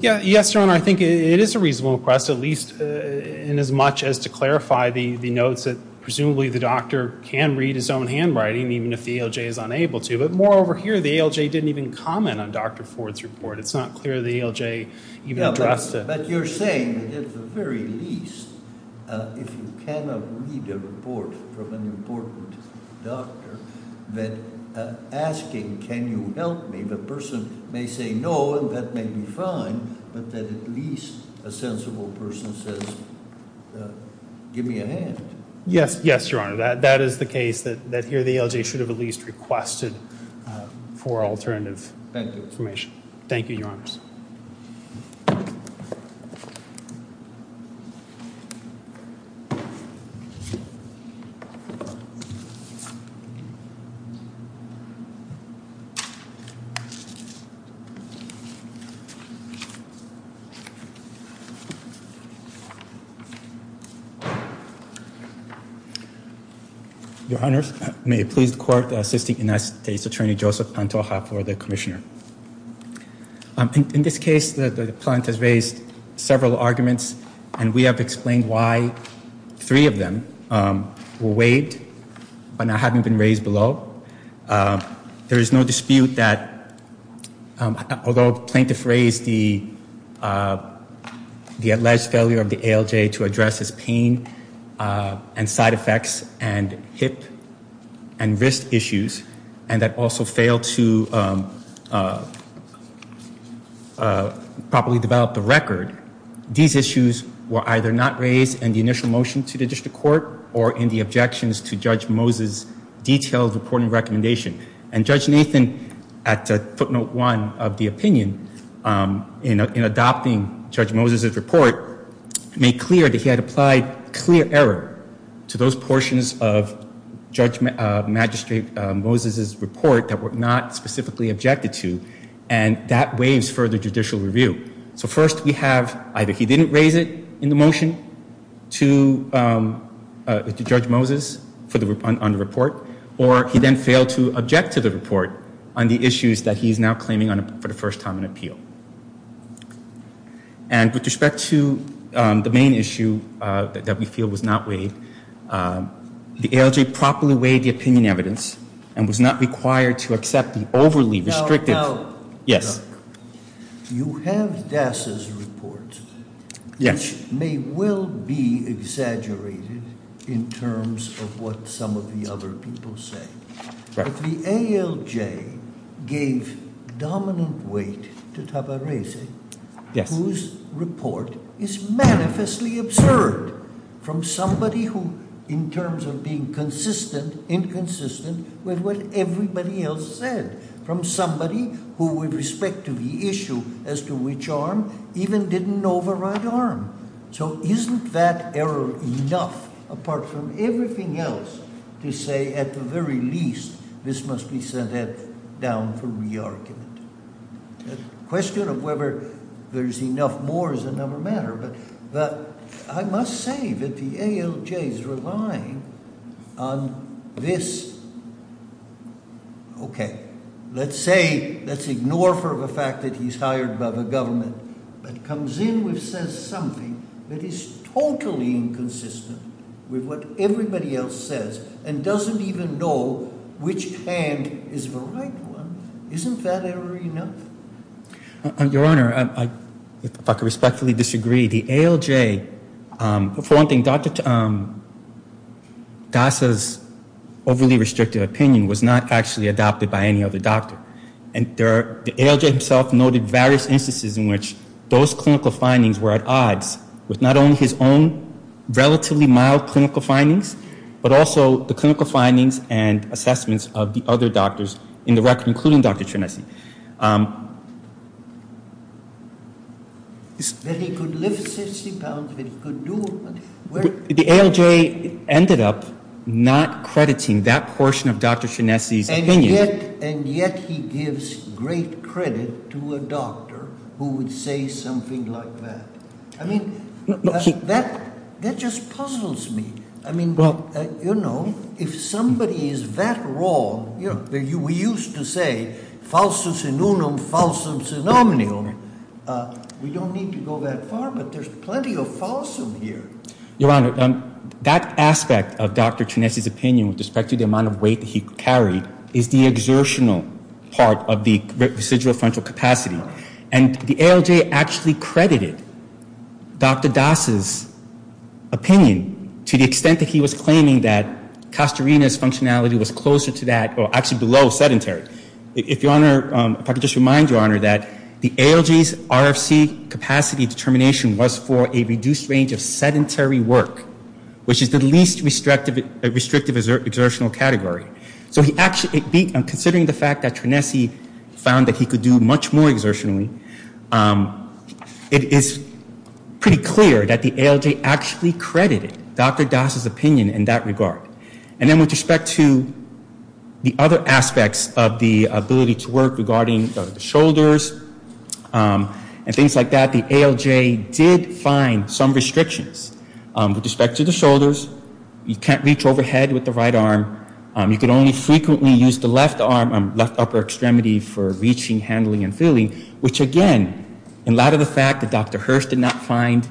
Yes, Your Honor, I think it is a reasonable request, at least in as much as to clarify the notes that presumably the doctor can read his own handwriting, even if the ALJ is unable to. But moreover here, the ALJ didn't even comment on Dr. Ford's report. It's not clear the ALJ even addressed it. As you're saying, it is the very least if you cannot read a report from an important doctor, that asking, can you help me, the person may say no, and that may be fine, but that at least a sensible person says, give me a hand. Yes, Your Honor, that is the case, that here the ALJ should have at least requested for alternative permission. Thank you, Your Honor. Your Honor, may it please the court, the Assistant United States Attorney, Joseph Pantoja, for the commissioner. In this case, the client has raised several arguments, The second argument is that the ALJ should have three of them were weighed but haven't been raised below. There is no dispute that, although plaintiffs raised the alleged failure of the ALJ to address its pain and side effects and hip and wrist issues and that also failed to properly develop the record, these issues were either not raised in the initial motion to the district court or in the objections to Judge Moses' detailed reporting recommendation. And Judge Nathan, at footnote one of the opinion, in adopting Judge Moses' report, made clear that he had applied clear error to those portions of Judge Magistrate Moses' report that were not specifically objected to, and that waives further judicial review. So first we have either he didn't raise it in the motion to Judge Moses on the report or he then failed to object to the report on the issues that he is now claiming for the first time in appeal. And with respect to the main issue that we feel was not weighed, the ALJ properly weighed the opinion evidence No, no. You have Das' report, which may well be exaggerated in terms of what some of the other people say. But the ALJ gave dominant weight to Taparese, whose report is manifestly absurd from somebody who, in terms of being consistent, inconsistent with what everybody else said, from somebody who, with respect to the issue as to which arm, even didn't know the right arm. So isn't that error enough, apart from everything else, to say, at the very least, this must be sent down for re-argument? The question of whether there is enough more is another matter. But I must say that the ALJ is relying on this. OK. Let's say, let's ignore for the fact that he's hired by the government, and comes in with something that is totally inconsistent with what everybody else says, and doesn't even know which hand is the right one. Isn't that error enough? Your Honor, I respectfully disagree. The ALJ, for one thing, DASA's overly restrictive opinion was not actually adopted by any other doctor. And the ALJ himself noted various instances in which those clinical findings were at odds with not only his own relatively mild clinical findings, but also the clinical findings and assessments of the other doctors in the record, including Dr. Tremesin. Then he could lift 60 pounds, he could do it. The ALJ ended up not crediting that portion of Dr. Tremesin's opinion. And yet he gives great credit to a doctor who would say something like that. I mean, that just puzzles me. I mean, you know, if somebody is that wrong, we used to say, falsus in unum, falsum in nominum. We don't need to go that far, but there's plenty of falsum here. Your Honor, that aspect of Dr. Tremesin's opinion, with respect to the amount of weight that he carried, is the exertional part of the residual frontal capacity. And the ALJ actually credited Dr. DASA's opinion to the extent that he was claiming that he was actually below sedentary. If Your Honor, if I could just remind Your Honor that the ALJ's RFC capacity determination was for a reduced range of sedentary work, which is the least restrictive exertional category. So considering the fact that Tremesin found that he could do much more exertionally, it is pretty clear that the ALJ actually credited Dr. DASA's opinion in that regard. And then with respect to the other aspects of the ability to work regarding the shoulders and things like that, the ALJ did find some restrictions. With respect to the shoulders, you can't reach overhead with the right arm. You can only frequently use the left arm on the left upper extremity for reaching, handling, and feeling, which again, in light of the fact that Dr. Hearst did not find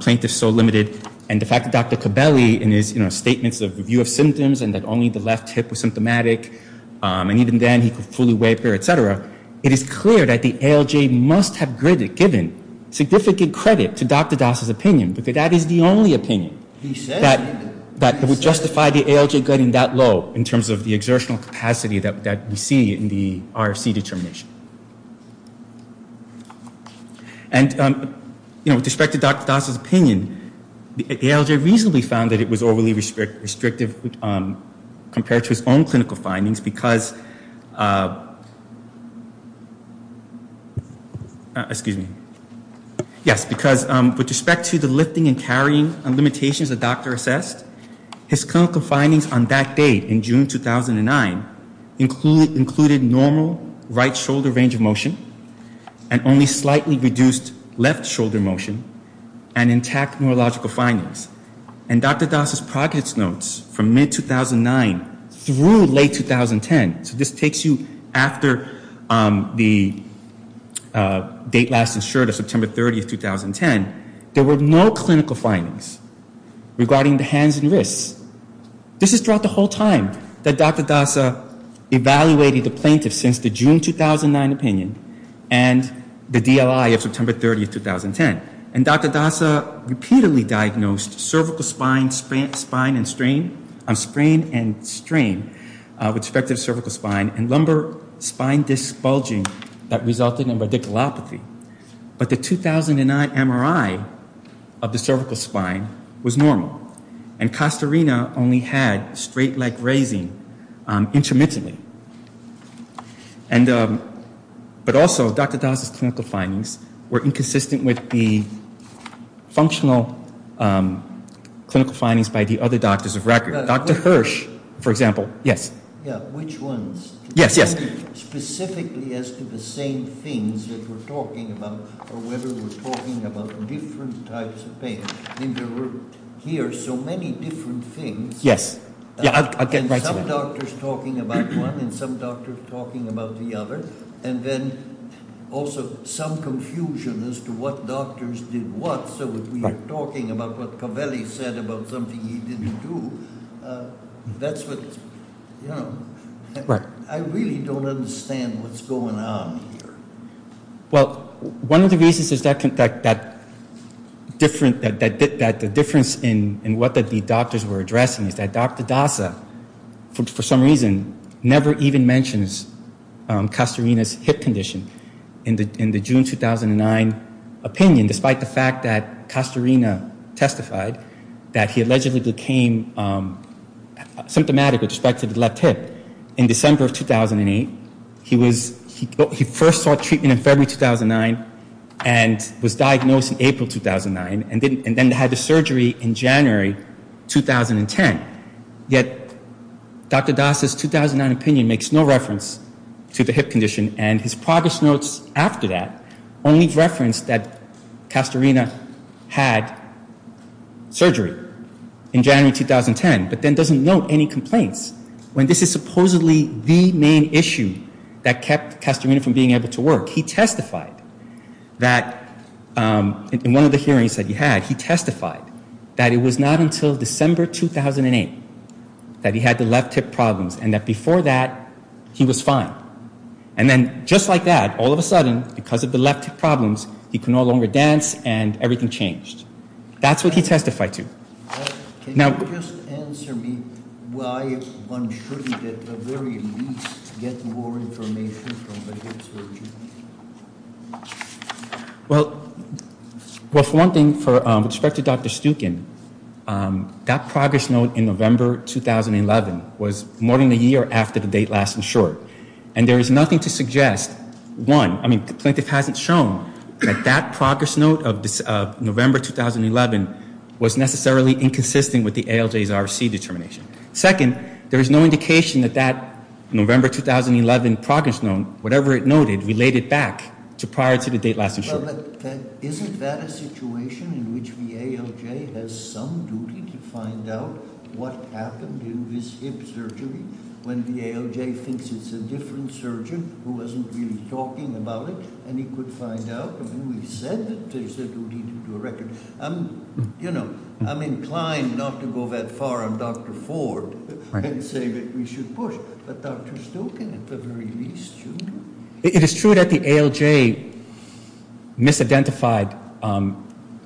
plaintiffs so limited, and the fact that Dr. Cabelli in his statements of review of symptoms and that only the left hip was symptomatic, and even then he could fully wave here, et cetera, it is clear that the ALJ must have given significant credit to Dr. DASA's opinion, because that is the only opinion that would justify the ALJ getting that low in terms of the exertional capacity that we see in the RFC determination. And with respect to Dr. DASA's opinion, the ALJ reasonably found that it was overly restrictive compared to his own clinical findings, because with respect to the lifting and carrying and limitations that Dr. assessed, his clinical findings on that day in June 2009 included normal right shoulder range of motion and only slightly reduced left shoulder motion and intact neurological findings. And Dr. DASA's prognosis notes from mid-2009 through late 2010, so this takes you after the date last insured of September 30, 2010, there were no clinical findings regarding the hands and wrists. This is throughout the whole time that Dr. DASA evaluated the plaintiffs since the June 2009 opinion and the DLI of September 30, 2010. And Dr. DASA repeatedly diagnosed cervical spine and sprain with respect to the cervical spine and lumbar spine disc bulging that resulted in radiculopathy. But the 2009 MRI of the cervical spine was normal and costa rena only had straight leg raising intermittently. But also Dr. DASA's clinical findings were inconsistent with the functional clinical findings by the other doctors of record. Dr. Hirsch, for example. Yes. Which ones? Yes, yes. Specifically as to the same things that we're talking about or whether we're talking about different types of things. These are so many different things. Yes. Some doctors talking about one and some doctors talking about the other. And then also some confusion as to what doctors did what. So if we're talking about what Covelli said about something he didn't do, that's what, you know. I really don't understand what's going on here. Well, one of the reasons is that the difference in what the doctors were addressing is that Dr. DASA, for some reason, never even mentions costa rena's hip condition in the June 2009 opinion, despite the fact that costa rena testified that he allegedly became symptomatic with respect to the left hip in December of 2008. He first sought treatment in February 2009 and was diagnosed in April 2009 and then had the surgery in January 2010. Yet Dr. DASA's 2009 opinion makes no reference to the hip condition and his progress notes after that only reference that costa rena had surgery in January 2010, but then doesn't note any complaints. When this is supposedly the main issue that kept costa rena from being able to work, he testified that, in one of the hearings that he had, he testified that it was not until December 2008 that he had the left hip problems and that before that he was fine. And then just like that, all of a sudden, because of the left hip problems, he could no longer dance and everything changed. That's what he testified to. Now... Can you just answer me why one shouldn't get the very least, get more information from the hip surgery? Well, for one thing, with respect to Dr. Stukin, that progress note in November 2011 was more than a year after the date last in short. And there is nothing to suggest, one, I mean, the plaintiff hasn't shown that that progress note of November 2011 was necessarily inconsistent with the ALJ's RC determination. Second, there is no indication that that November 2011 progress note, whatever it noted, related back to prior to the date last in short. Isn't that a situation in which the ALJ has some duty to find out what happened in this hip surgery when the ALJ thinks it's a different surgeon who wasn't really talking about it and he could find out who he said they said would need to correct it. You know, I'm inclined not to go that far on Dr. Ford and say that we should push, but Dr. Stukin at the very least, you know? It is true that the ALJ misidentified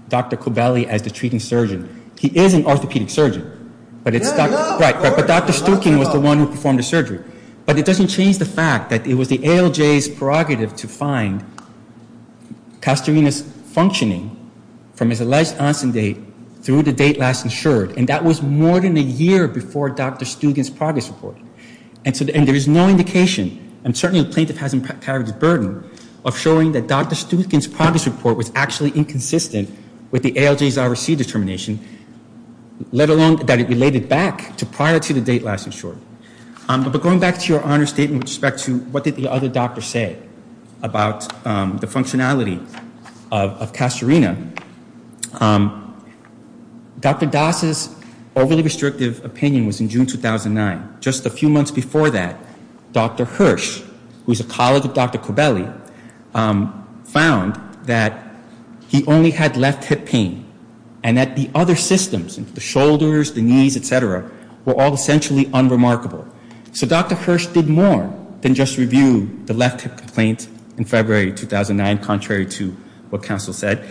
Dr. Kobeli as the treating surgeon. He is an orthopedic surgeon, but Dr. Stukin was the one who performed the surgery. that it was the ALJ's prerogative to find castorine functioning from his alleged onset date through the date last insured, and that was more than a year before Dr. Stukin's progress report. And there is no indication, and certainly plaintiff hasn't carried the burden, of showing that Dr. Stukin's progress report was actually inconsistent with the ALJ's RC determination, let alone that it related back to prior to the date last insured. But going back to your honor statement with respect to what did the other doctor say about the functionality of castorine, Dr. Das' overly restrictive opinion was in June 2009. Just a few months before that, Dr. Hirsch, who is a colleague of Dr. Kobeli, found that he only had left hip pain, and that the other systems, the shoulders, the knees, et cetera, were all essentially unremarkable. So Dr. Hirsch did more than just review the left hip complaint in February 2009, contrary to what counsel said.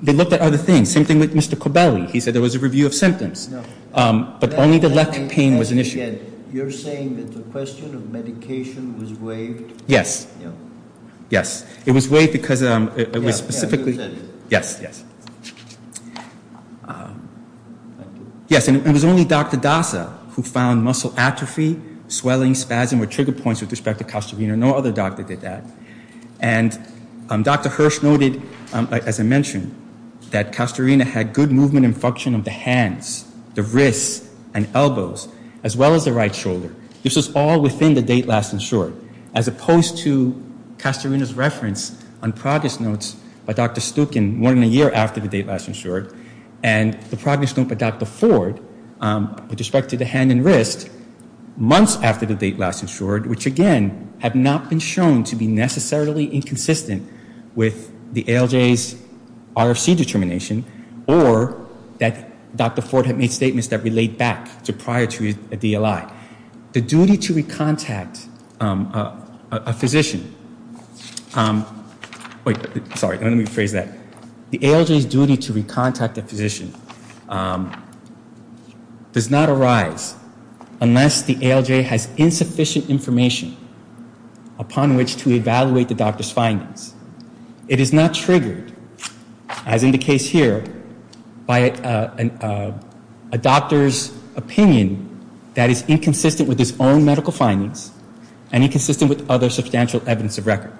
They looked at other things. Same thing with Mr. Kobeli. He said there was a review of symptoms. But only the left hip pain was an issue. You're saying that the question of medication was waived? Yes. Yes. It was waived because it was specifically... Yes, yes. Yes, and it was only Dr. Dasa who found muscle atrophy, swelling, spasm, or trigger points with respect to castorine. No other doctor did that. And Dr. Hirsch noted, as I mentioned, that castorine had good movement and function of the hands, the wrists, and elbows, as well as the right shoulder. This was all within the date last insured, as opposed to castorine's reference on progress notes by Dr. Stukin more than a year after the date last insured. And the progress note that that before, with respect to the hand and wrist, months after the date last insured, which again, have not been shown to be necessarily inconsistent with the ALJ's RFC determination, or that Dr. Ford had made statements that relate back to prior to a DLI. The duty to recontact a physician... Sorry, let me rephrase that. The ALJ's duty to recontact a physician does not arise unless the ALJ has insufficient information upon which to evaluate the doctor's findings. It is not triggered, as in the case here, by a doctor's opinion that is inconsistent with his own medical findings and inconsistent with other substantial evidence of record.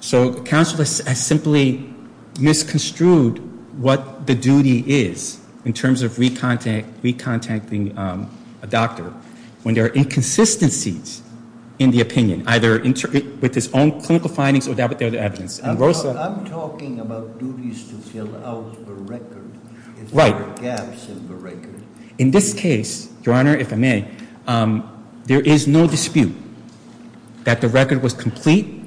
So counsel has simply misconstrued what the duty is in terms of recontacting a doctor when there are inconsistencies in the opinion, either with his own clinical findings or with other evidence. I'm talking about duties to fill out the record. Right. There are gaps in the record. In this case, Your Honor, if I may, there is no dispute that the record was complete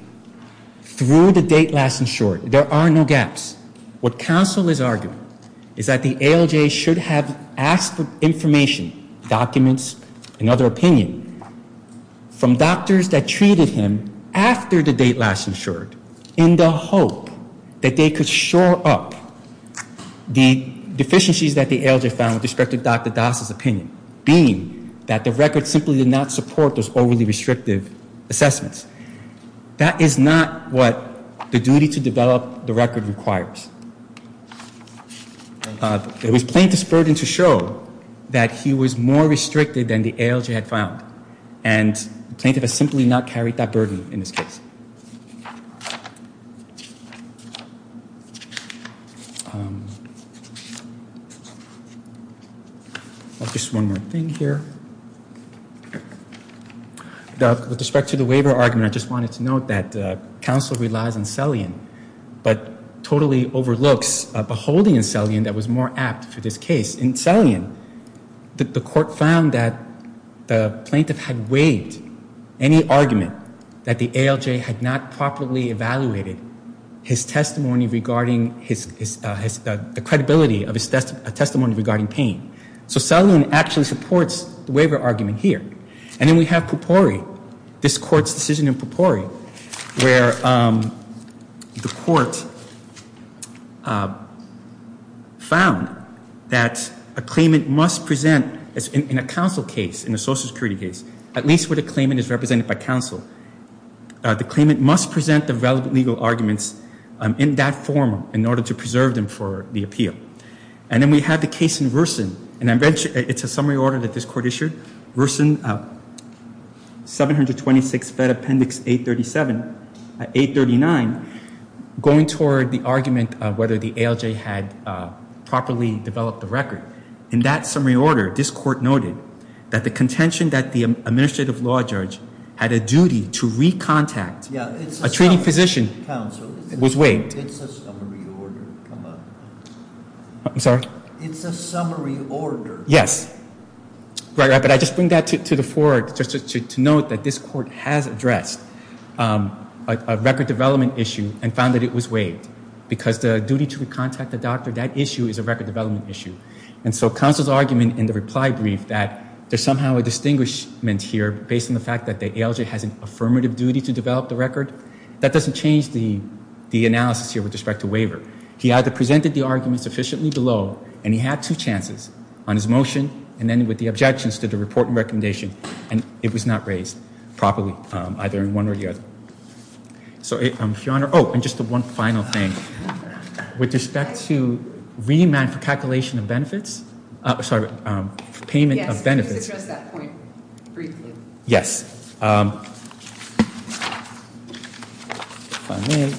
through the date last insured. There are no gaps. What counsel is arguing is that the ALJ should have access to information, documents, and other opinion from doctors that treated him after the date last insured in the hope that they could shore up the deficiencies that the ALJ found with respect to Dr. Das' opinion, being that the record simply did not support those overly restrictive assessments. That is not what the duty to develop the record requires. It was Plaintiff's burden to show that he was more restricted than the ALJ had found. And Plaintiff has simply not carried that burden in this case. Just one more thing here. With respect to the waiver argument, I just wanted to note that counsel relies on selling, but totally overlooks a holding of selling that was more apt to this case. In selling it, the court found that the plaintiff had waived any argument that the ALJ had not properly evaluated his testimony regarding the credibility of his testimony regarding pain. So selling actually supports the waiver argument here. And then we have Popori, this court's decision in Popori, where the court found that a claimant must present, in a counsel case, in a social security case, at least where the claimant is represented by counsel, the claimant must present the relevant legal arguments in that form in order to preserve them for the appeal. And then we have the case in Wersen. It's a summary order that this court issued. Wersen, 726 Fed Appendix 839, going toward the argument of whether the ALJ had properly developed the record. In that summary order, this court noted that the contention that the administrative law judge had a duty to recontact a treating physician was waived. It's a summary order. I'm sorry? It's a summary order. Yes. But I just bring that to the fore to note that this court has addressed a record development issue and found that it was waived because the duty to contact the doctor, that issue is a record development issue. And so counsel's argument in the reply brief that there's somehow a distinguishment here based on the fact that the ALJ has an affirmative duty to develop the record, that doesn't change the analysis here with respect to waiver. He either presented the argument sufficiently below and he had two chances on his motion and then with the objections to the report and recommendation and it was not raised properly either in one or the other. So, Your Honor, oh, and just one final thing. With respect to remand for calculation of benefits, sorry, payment of benefits... Yes, you can address that point briefly. Yes. Sign in.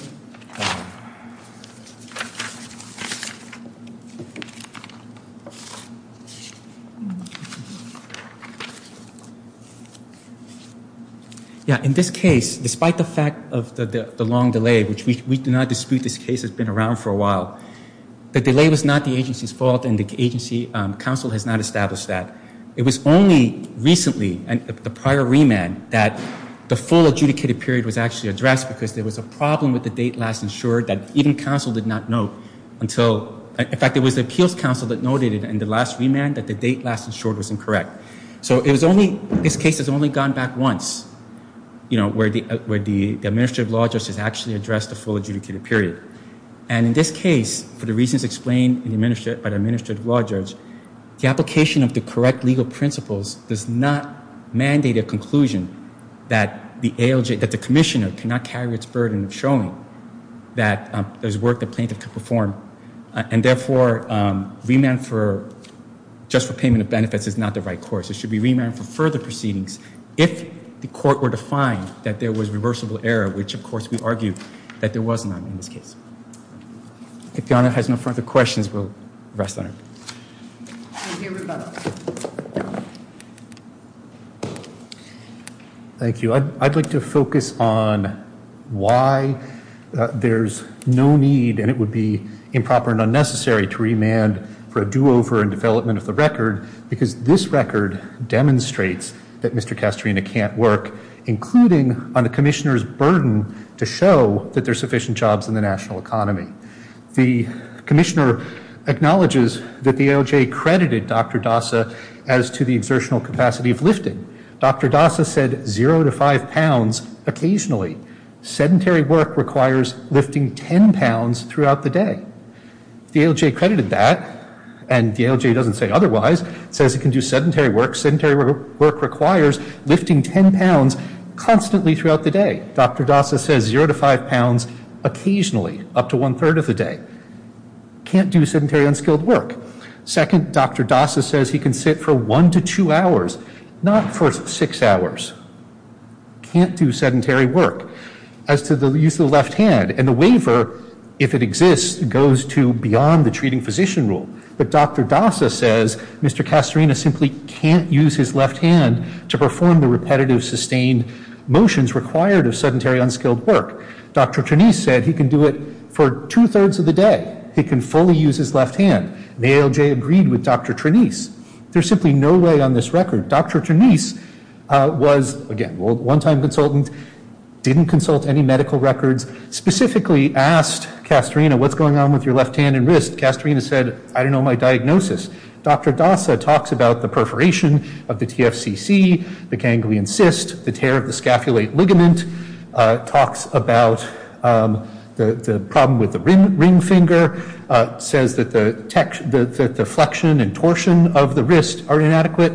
Yeah, in this case, despite the fact of the long delay, which we do not dispute this case that's been around for a while, the delay was not the agency's fault and the agency counsel has not established that. It was only recently, the prior remand, that the full adjudicated period was actually addressed because there was a problem with the date last insured In fact, it was the appeals counsel that noted in the last adjudicated period that the date last insured that the date last insured was incorrect. So this case has only gone back once where the administrative law judge has actually addressed the full adjudicated period. And in this case, for the reasons explained by the administrative law judge, the application of the correct legal principles does not mandate a conclusion that the commissioner cannot carry its burden in showing that there's work that plaintiff could perform And therefore, remand for just for payment of benefits is not the right course. It should be remand for further proceedings if the court were to find that there was reversible error, which of course we argued that there was none in this case. If Donna has no further questions, we'll rest on it. Thank you. I'd like to focus on why there's no need, and it would be improper and unnecessary to remand for a do-over in development of the record because this record demonstrates that Mr. Castorina can't work, including on the commissioner's burden to show that there's sufficient jobs in the national economy. The commissioner acknowledges that the ALJ credited Dr. Dasa as to the observational capacity of lifting. Dr. Dasa said zero to five pounds occasionally. Sedentary work requires lifting 10 pounds throughout the day. The ALJ credited that, and the ALJ doesn't say otherwise, says it can do sedentary work. Sedentary work requires lifting 10 pounds constantly throughout the day. Dr. Dasa says zero to five pounds occasionally up to one-third of the day. Can't do sedentary, unskilled work. Second, Dr. Dasa says he can sit for one to two hours, not for six hours. Can't do sedentary work. As to the use of the left hand, and the waiver, if it exists, goes to beyond the treating physician rule. But Dr. Dasa says Mr. Castorina simply can't use his left hand to perform the repetitive, sustained motions required of sedentary, unskilled work. Dr. Trenise said he can do it for two-thirds of the day. He can fully use his left hand. The ALJ agreed with Dr. Trenise. There's simply no way on this record. Dr. Trenise was, again, a one-time consultant, didn't consult any medical records but specifically asked Castorina, what's going on with your left hand and wrist? Castorina said, I don't know my diagnosis. Dr. Dasa talks about the perforation of the TFCC, the ganglion cyst, the tear of the scapulate ligament, talks about the problem with the ring finger, says that the flexion and torsion of the wrist are inadequate.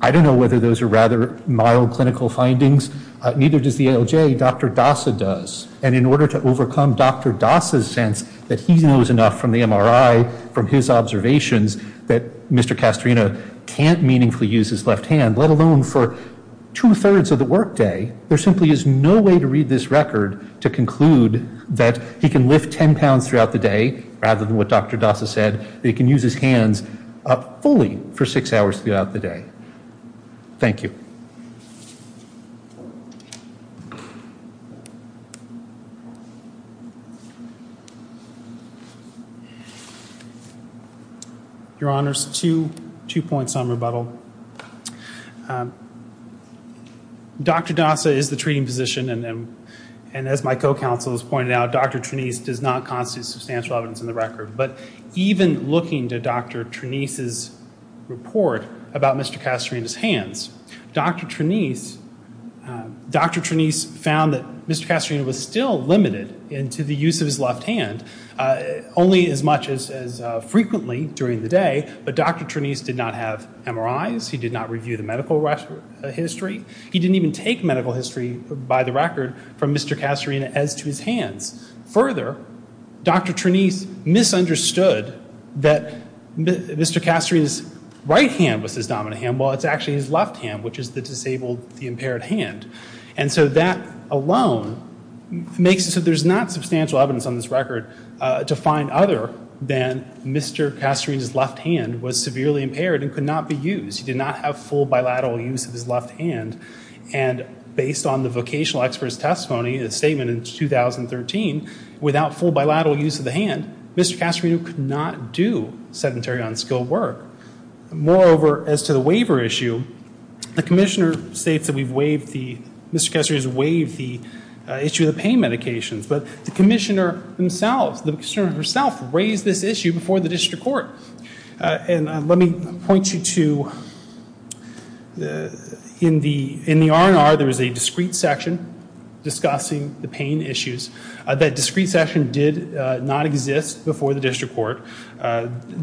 I don't know whether those are rather mild clinical findings. Neither does the ALJ. The same way Dr. Dasa does. In order to overcome Dr. Dasa's sense that he knows enough from the MRI, from his observations, that Mr. Castorina can't meaningfully use his left hand, let alone for two-thirds of the workday, there simply is no way to read this record to conclude that he can lift 10 pounds throughout the day, rather than what Dr. Dasa said, that he can use his hand fully for six hours throughout the day. Thank you. Your Honor, two points on rebuttal. Dr. Dasa is the treating physician, and as my co-counsel has pointed out, Dr. Trenise does not constitute substantial evidence in the record. But even looking to Dr. Trenise's report about Mr. Castorina's hands, Dr. Trenise found that he can lift 10 pounds throughout the day. Dr. Trenise found that Mr. Castorina was still limited into the use of his left hand, only as much as frequently during the day. But Dr. Trenise did not have MRIs. He did not review the medical history. He didn't even take medical history, by the record, from Mr. Castorina as to his hand. Further, Dr. Trenise misunderstood that Mr. Castorina's right hand was his dominant hand. While it's actually his left hand, which is the disabled, impaired hand. And so that alone makes it so there's not substantial evidence on this record to find other than Mr. Castorina's left hand was severely impaired and could not be used. He did not have full bilateral use of his left hand. And based on the vocational expert's testimony, his statement in 2013, without full bilateral use of the hand, Mr. Castorina could not do sedentary on-skill work. Moreover, as to the waiver issue, the commissioner states that we've waived the, Mr. Castorina's waived the issue of the pain medication. But the commissioner himself, the commissioner herself raised this issue before the district court. And let me point you to, in the R&R, there's a discrete section discussing the pain issues. That discrete section did not exist before the district court. Mr.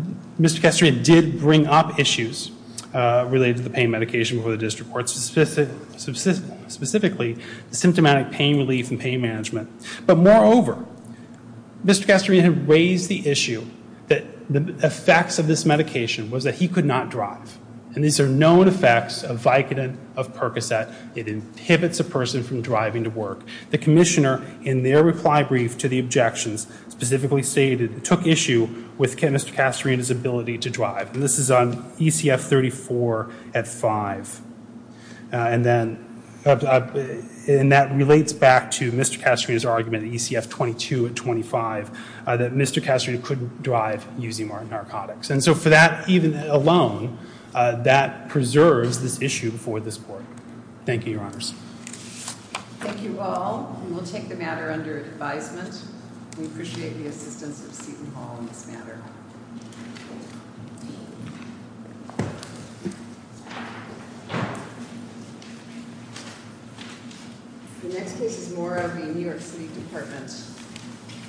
Castorina did bring up issues related to the pain medication before the district court, specifically symptomatic pain relief and pain management. But moreover, Mr. Castorina raised the issue that the effects of this medication was that he could not drive. And these are known effects of Vicodin, of Percocet. It inhibits a person from driving to work. The commissioner, in their reply brief to the objections, specifically stated it took issue with Mr. Castorina's ability to drive. And this is on ECF 34 at five. And that relates back to Mr. Castorina's argument at ECF 22 at 25, that Mr. Castorina couldn't drive using narcotics. And so for that, even alone, that preserves this issue before this court. Thank you, your honors. Thank you all. And we'll take the matter under advisement. Thank you, your honors. We appreciate you have consented to be involved in this matter. The next case is Moore out of the New York City Department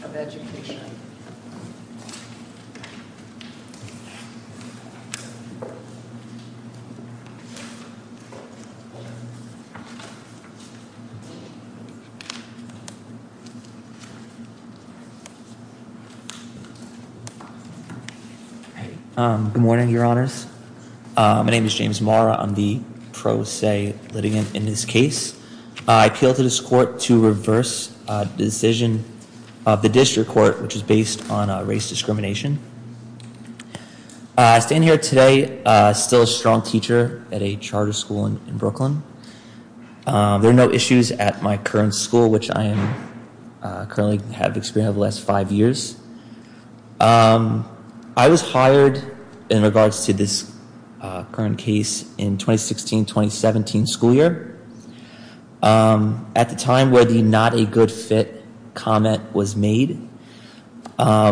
of Education. Good morning, your honors. My name is James Moore. I'm the pro se litigant in this case. I appeal to this court to reverse the decision of the district court, which is based on race discrimination. I stand here today still a strong teacher at a charter school in Brooklyn. There are no issues at my current school, which I currently have experienced over the last five years. I was hired in regards to this current case in 2016-2017 school year. At the time where the not a good fit comment was made, I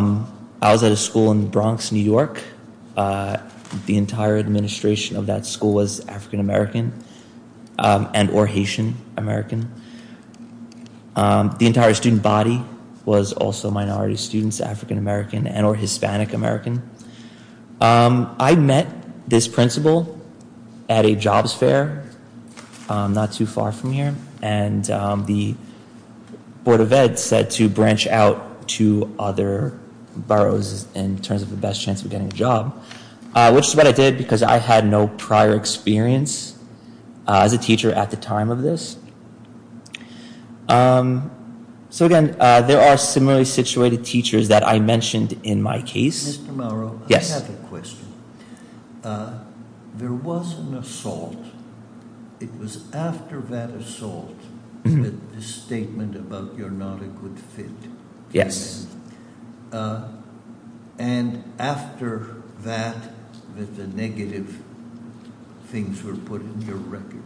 was at a school in the Bronx, New York. The entire administration of that school was African-American and or Haitian-American. The entire student body was also minority students, African-American and or Hispanic-American. I met this principal at a job fair not too far from here, and the Board of Ed said to branch out to other boroughs in terms of the best chance of getting a job, which is what I did because I had no prior experience as a teacher at the time of this. So again, there are similarly situated teachers that I mentioned in my case. Mr. Mauro, I have a question. There was an assault. It was after that assault that the statement about you're not a good fit was made. And after that, the negative things were put in your record.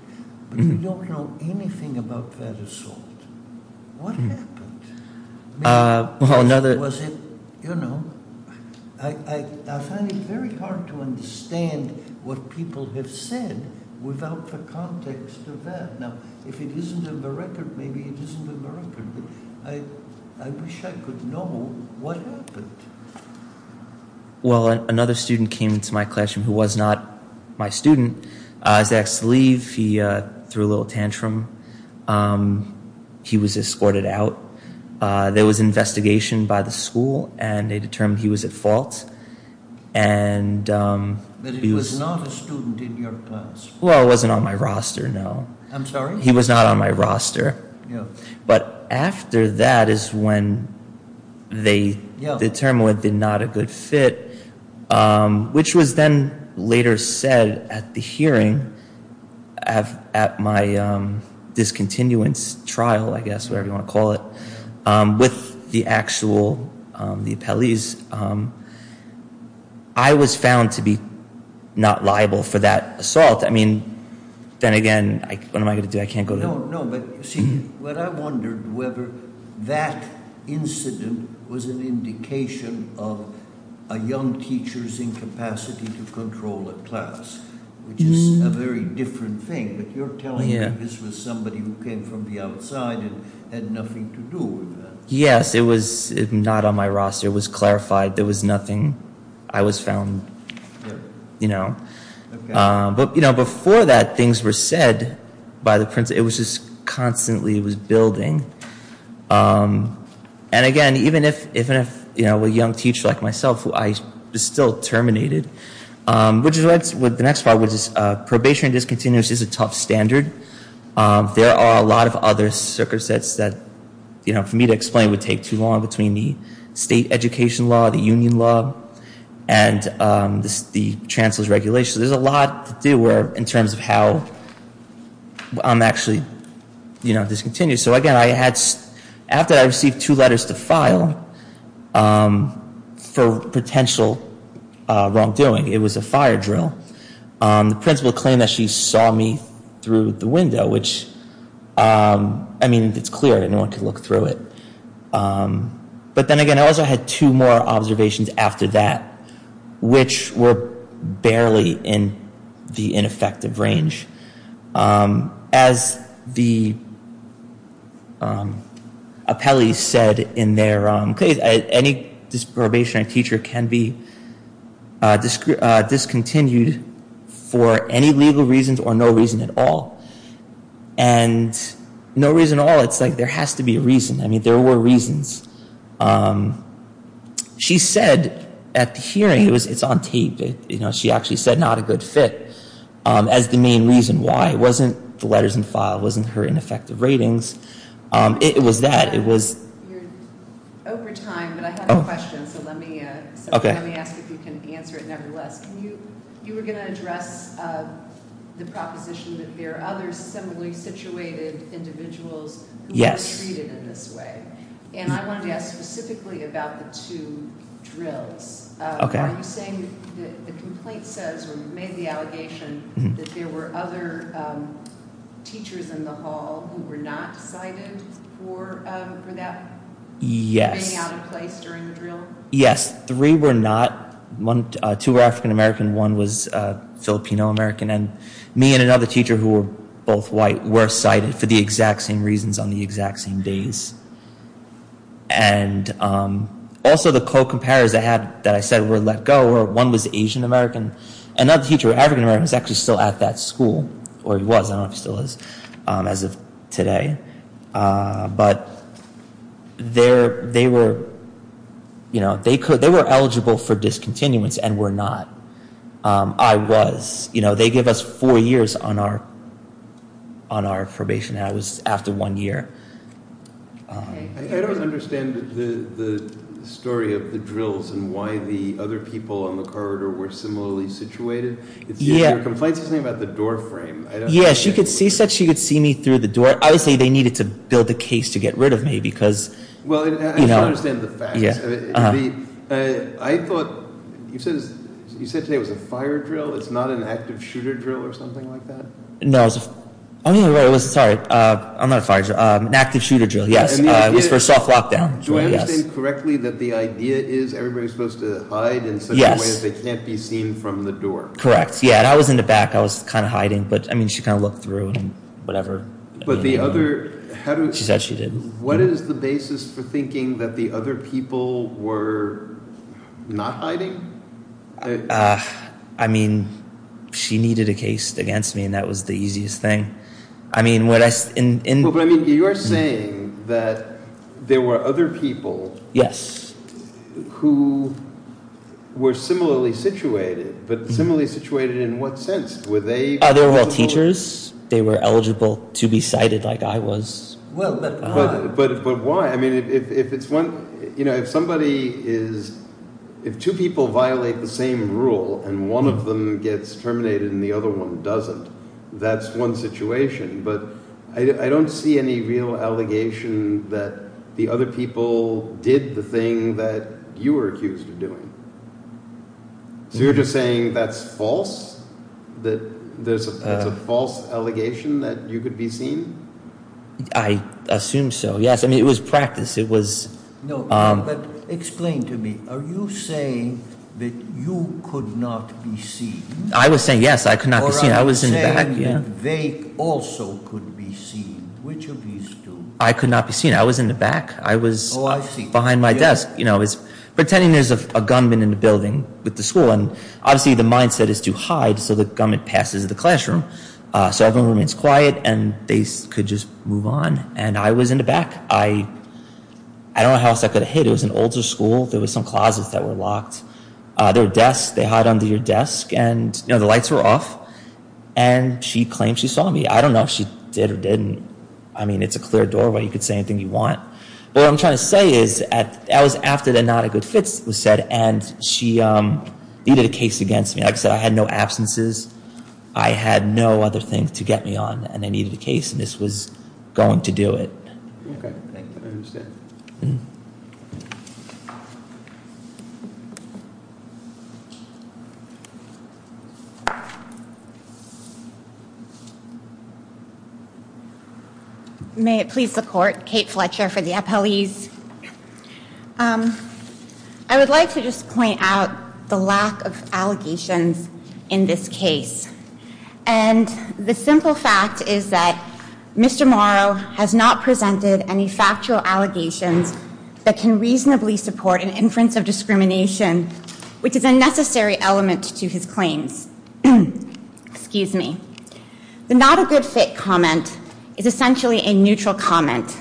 But we don't know anything about that assault. What happened? What was it? I find it very hard to understand what people have said without the context of that. Now, if it isn't in the record, maybe it isn't in the record. I wish I could know what happened. Well, another student came into my classroom who was not my student. He asked to leave. He threw a little tantrum. He was escorted out. There was an investigation by the school, and they determined he was at fault. But he was not a student in your class? Well, he wasn't on my roster, no. I'm sorry? He was not on my roster. But after that is when they determined that he was not a good fit, which was then later said at the hearing, at my discontinuance trial, I guess, whatever you want to call it, with the actual appellees. I was found to be not liable for that assault. I mean, then again, what am I going to do? But I wondered whether that incident was an indication of a young teacher's incapacity to control the class, which is a very different thing. If you're telling me that this was somebody who came from the outside and had nothing to do with that. Yes, it was not on my roster. It was clarified. There was nothing. I was found, you know. But before that, things were said by the principal. It was just constantly building. And again, even if a young teacher like myself, who I still terminated, which is what the next part was, probationary discontinuance is a top standard. There are a lot of other circumstances that for me to explain would take too long between the state education law, the union law, and the chancellor's regulations. There's a lot to do in terms of how I'm actually discontinued. So again, after that, I received two letters to file for potential wrongdoing. It was a fire drill. The principal claimed that she saw me through the window, which I mean, it's clear. I didn't know what to look through it. But then again, I also had two more observations after that, which were barely in the ineffective range. As the appellees said in their case, any disprobation on a teacher can be discontinued for any legal reasons or no reason at all. And no reason at all, it's like there has to be a reason. I mean, there were reasons. She said at the hearing, it's on tape, she actually said not a good fit as the main reason why. It wasn't the letters in the file. It wasn't her ineffective ratings. It was that. It was. Over time, but I have a question, so let me ask if you can answer it nevertheless. You were going to address the proposition that there are other similarly situated individuals who are treated in this way. And I wanted to ask specifically about the two drills. Are you saying that the complaint says, or you made the allegation, that there were other teachers in the hall who were not cited for being out of place during the drill? Yes, three were not. Two were African-American and one was Filipino-American. And me and another teacher who were both white were cited for the exact same reasons on the exact same days. And also, the co-comparators that I said were let go, one was Asian-American. Another teacher who was African-American was actually still at that school, or was, I don't know if he still is as of today. But they were eligible for discontinuance and were not. I was. They gave us four years on our probation. That was after one year. I don't understand the story of the drills and why the other people on the corridor were similarly situated. The complaint doesn't say about the door frame. Yes, she said she could see me through the door. I would say they needed to build a case to get rid of me, because, you know. Well, I don't understand the fact. I thought, you said today it was a fire drill. It's not an active shooter drill or something like that? No. I don't even know where it was. Sorry. I'm not a fire drill. An active shooter drill. Yes. For soft lockdown. Do I understand correctly that the idea is everybody's supposed to hide in such a way that they can't be seen from the door? Correct. Yeah, and I was in the back. I was kind of hiding. But, I mean, she kind of looked through and whatever. But the other. She said she didn't. What is the basis for thinking that the other people were not hiding? I mean, she needed a case against me, and that was the easiest thing. I mean, what I. But, I mean, you are saying that there were other people. Yes. Who were similarly situated. But similarly situated in what sense? Were they. Are they all teachers? They were eligible to be sighted like I was. Well, but. But why? I mean, if it's one. You know, if somebody is. If two people violate the same rule and one of them gets terminated and the other one doesn't, that's one situation. But I don't see any real allegation that the other people did the thing that you were accused of doing. You're just saying that's false? That there's a false allegation that you could be seen? I assume so, yes. I mean, it was practice. It was. No, but explain to me. Are you saying that you could not be seen? I was saying, yes, I could not be seen. Or are you saying that they also could be seen? Which of these two? I could not be seen. I was in the back. I was behind my desk. You know, it's. Pretending there's a gunman in the building with the school, and obviously the mindset is to hide until the gunman passes the classroom. So everyone remains quiet and they could just move on. And I was in the back. I don't know how else I could have hid. It was an older school. There were some closets that were locked. There were desks. They hide under your desk. And the lights were off. And she claimed she saw me. I don't know if she did or didn't. I mean, it's a clear doorway. You could say anything you want. But what I'm trying to say is, that was after the not a good fit was said. And she needed a case against me. Like I said, I had no absences. I had no other thing to get me on. And I needed a case. And this was going to do it. May it please the court. Kate Fletcher for the appellees. I would like to just point out the lack of allegations in this case. And the simple fact is that Mr. Morrow has not presented any factual allegations that can reasonably support an inference of discrimination, which is a necessary element to his claim. Excuse me. The not a good fit comment is essentially a neutral comment.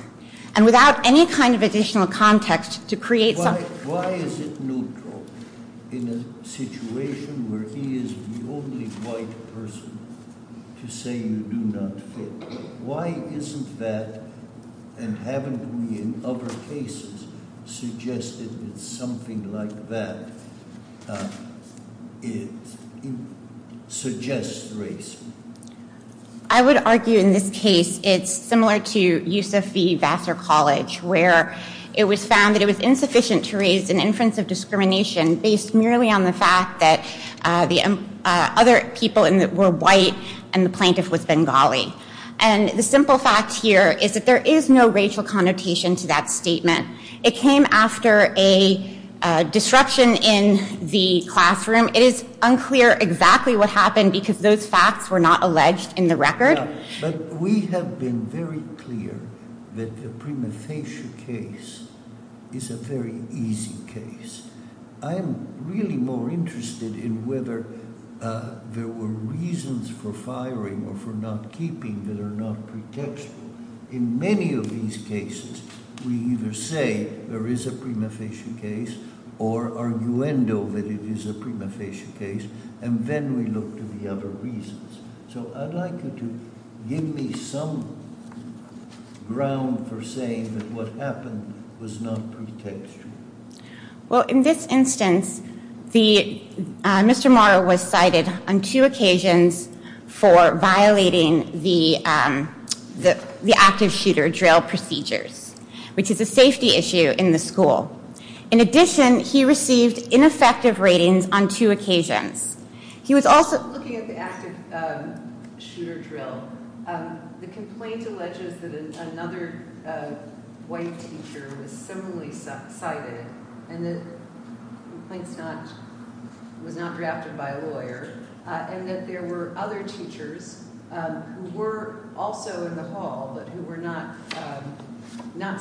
And without any kind of additional context to create... Why is it neutral? In a situation where he is the only white person to say you do not fit. Why isn't that, and haven't we in other cases suggested that something like that suggests race? I would argue in this case, it's similar to UCSD-Vassar College, where it was found that it was insufficient to raise an inference of discrimination based merely on the fact that the other people were white and the plaintiff was Bengali. And the simple fact here is that there is no racial connotation to that statement. It came after a disruption in the classroom. It is unclear exactly what happened because those facts were not alleged in the record. But we have been very clear that the premontation case is a very easy case. I am really more interested in whether there were reasons for firing or for not keeping that are not predictable. In many of these cases, we either say there is a prima facie case or arguendo that it is a prima facie case and then we look to the other reasons. So I'd like you to give me some ground for saying that what happened was not predictable. Well, in this instance, Mr. Morrow was cited on two occasions for violating the active shooter drill procedures, which is a safety issue in the school. In addition, he received ineffective ratings on two occasions. He was also looking at the active shooter drill. The complaint alleges that another white teacher was similarly cited and that the complaint was not drafted by a lawyer and that there were other teachers who were also in the hall but who were not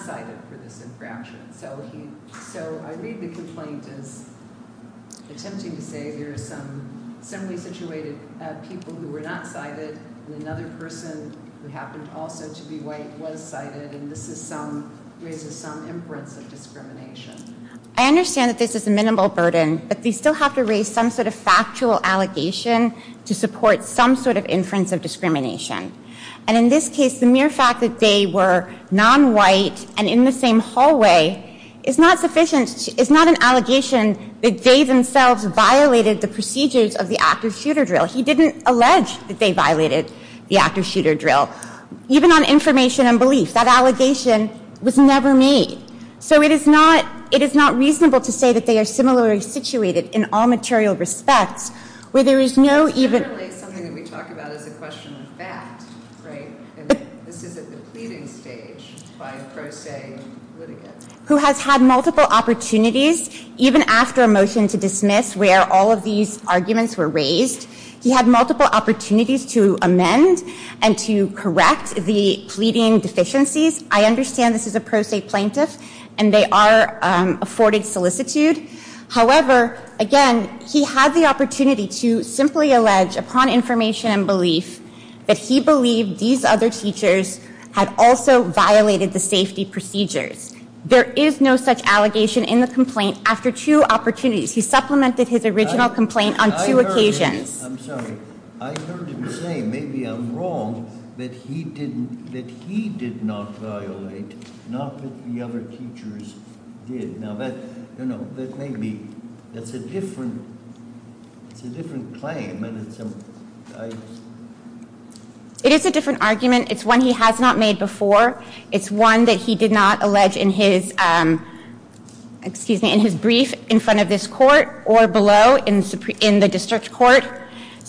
cited for this infraction. So I read the complaint as attempting to say there were some similarly situated people who were not cited and another person who happened also to be white was cited, and this raises some inference of discrimination. I understand that this is a minimal burden, but we still have to raise some sort of factual allegation to support some sort of inference of discrimination. And in this case, the mere fact that Dave were non-white and in the same hallway is not an allegation that Dave himself violated the procedures of the active shooter drill. He didn't allege that Dave violated the active shooter drill. Even on information and belief, that allegation was never made. So it is not reasonable to say that they are similarly situated in all material respects where there is no even... ...who has had multiple opportunities even after a motion to dismiss where all of these arguments were raised he had multiple opportunities to amend and to correct the pleading deficiencies. I understand this is a per se plaintiff and they are afforded solicitude. However, again, he had the opportunity to simply allege upon information and belief that he believed these other teachers had also violated the safety procedures. There is no such allegation in the complaint after two opportunities. He supplemented his original complaint on two occasions. It is a different argument. It's one he has not made before. It's one that he did not allege in his brief in front of this court or below in the district court.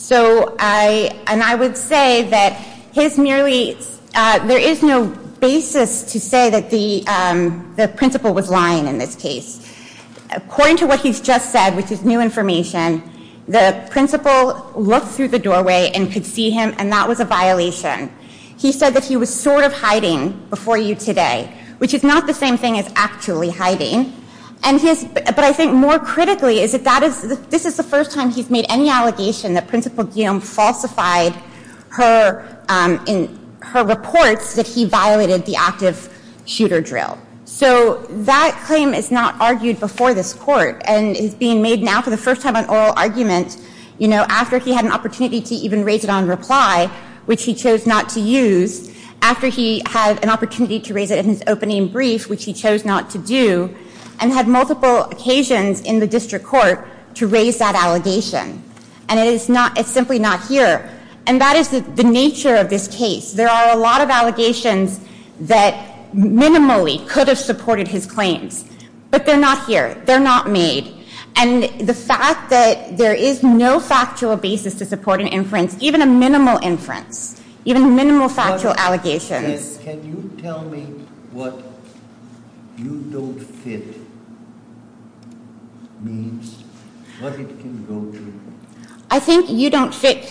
And I would say that there is no basis to say that the principal was lying in this case. According to what he has just said, which is new information, the principal looked through the doorway and could see him and that was a violation. He said that he was sort of hiding before you today, which is not the same thing as actually hiding. But I think more critically is that this is the first time he has made any allegation that Principal Guillaume falsified her reports that he violated the active shooter drill. So that claim is not argued before this court and is being made now for the first time on oral arguments after he had an opportunity to even raise it on reply, which he chose not to use, after he had an opportunity to raise it in his opening brief, which he chose not to do, and had multiple occasions in the district court to raise that allegation. And it is simply not here. And that is the nature of this case. There are a lot of allegations that minimally could have supported his claims. But they are not here. They are not made. And the fact that there is no factual basis to support an inference, even a minimal inference, even a minimal factual allegation. Can you tell me what you don't fit means, what it can go to? I think you don't fit.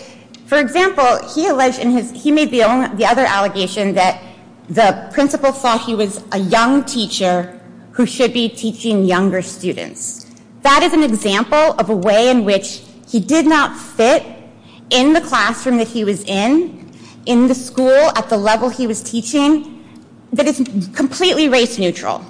For example, he alleged, he made the other allegation that the principal thought he was a young teacher who should be teaching younger students. That is an example of a way in which he did not fit in the classroom that he was in, in the school at the level he was teaching, that is completely race neutral.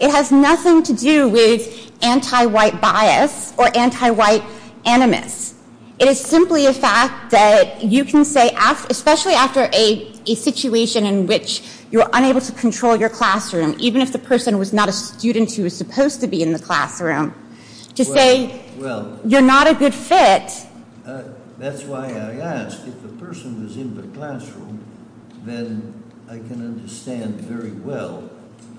It has nothing to do with anti-white bias or anti-white animus. It is simply a fact that you can say, especially after a situation in which you are unable to control your classroom, even if the person was not a student who was supposed to be in the classroom, to say, you're not a good fit. That's why I asked if the person was in the classroom, then I can understand very well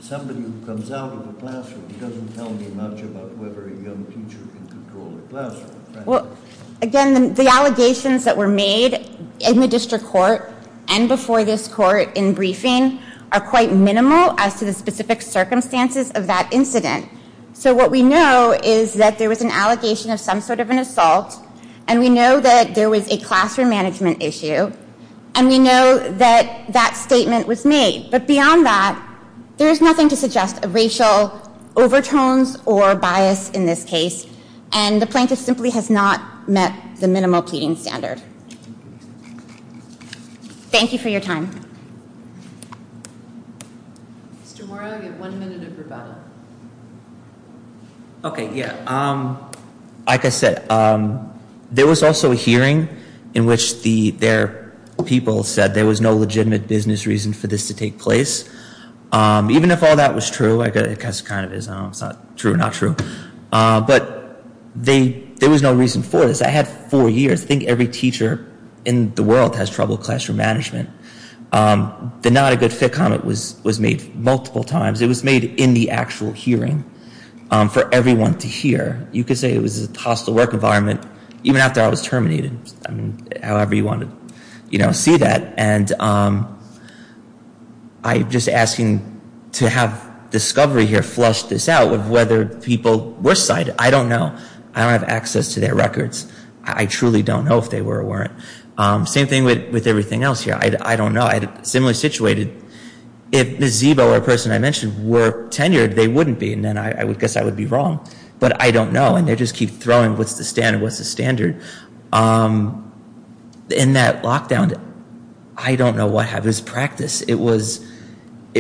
somebody who comes out of the classroom doesn't tell you much about whether a young teacher can control the classroom. Again, the allegations that were made in the district court and before this court in briefing are quite minimal as to the specific circumstances of that incident. So what we know is that there was an allegation of some sort of an assault and we know that there was a classroom management issue and we know that that statement was made. But beyond that, there is nothing to suggest a racial overtones or bias in this case and the plaintiff simply has not met the minimal peeing standards. Thank you for your time. Tomorrow we have one minute of rebuttal. Okay, yeah. Like I said, there was also a hearing in which their people said there was no legitimate business reason for this to take place. Even if all that was true, it kind of is true or not true, but there was no reason for this. I had four years. I think every teacher in the world has trouble with classroom management. The not a good fit comment was made multiple times. It was made in the actual hearing for everyone to hear. You could say it was a hostile work environment even after I was terminated. However you want to see that. I'm just asking to have discovery here flush this out of whether people were cited. I don't know. I don't have access to their records. I truly don't know if they were or weren't. Same thing with everything else here. I don't know. Similarly situated, if Ms. Zebo or the person I mentioned were tenured, they wouldn't be and I would guess that would be wrong, but I don't know and they just keep throwing with the standard. In that lockdown, I don't know what happened. It was practice. It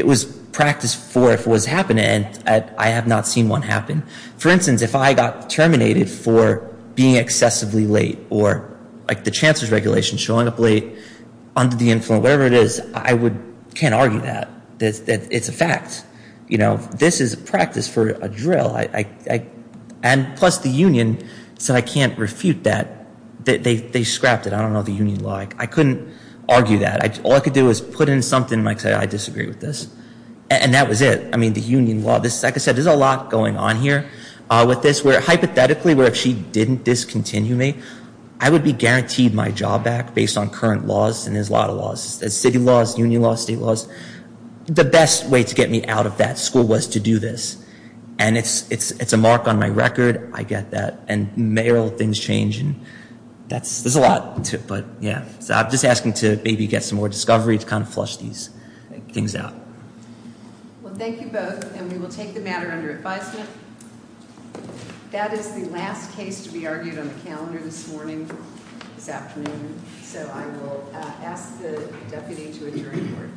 was practice for what was happening and I have not seen what happened. For instance, if I got terminated for being excessively late or the chances regulation showing up late under the influence, whatever it is, I can't argue that. It's a fact. This is practice for a drill. Plus the union said I can't refute that. They scrapped it. I don't know the union law. I couldn't argue that. All I could do is put in something and say I disagree with this and that was it. The union law, like I said, there's a lot going on here. Hypothetically, if she didn't discontinue me, I would be guaranteed my job back based on current laws and there's a lot of laws. City laws, union laws, city laws. The best way to get me out of that school was to do this and it's a mark on my record. I get that and things change. There's a lot. I'm just asking to maybe get some more discovery to flush these things out. Thank you both and we will take the matter under advisement. That is the last case to be argued on the calendar this morning. So I will ask the deputy to adjourn.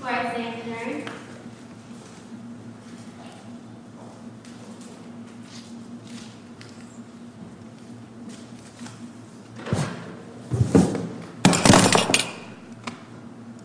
Quiet please.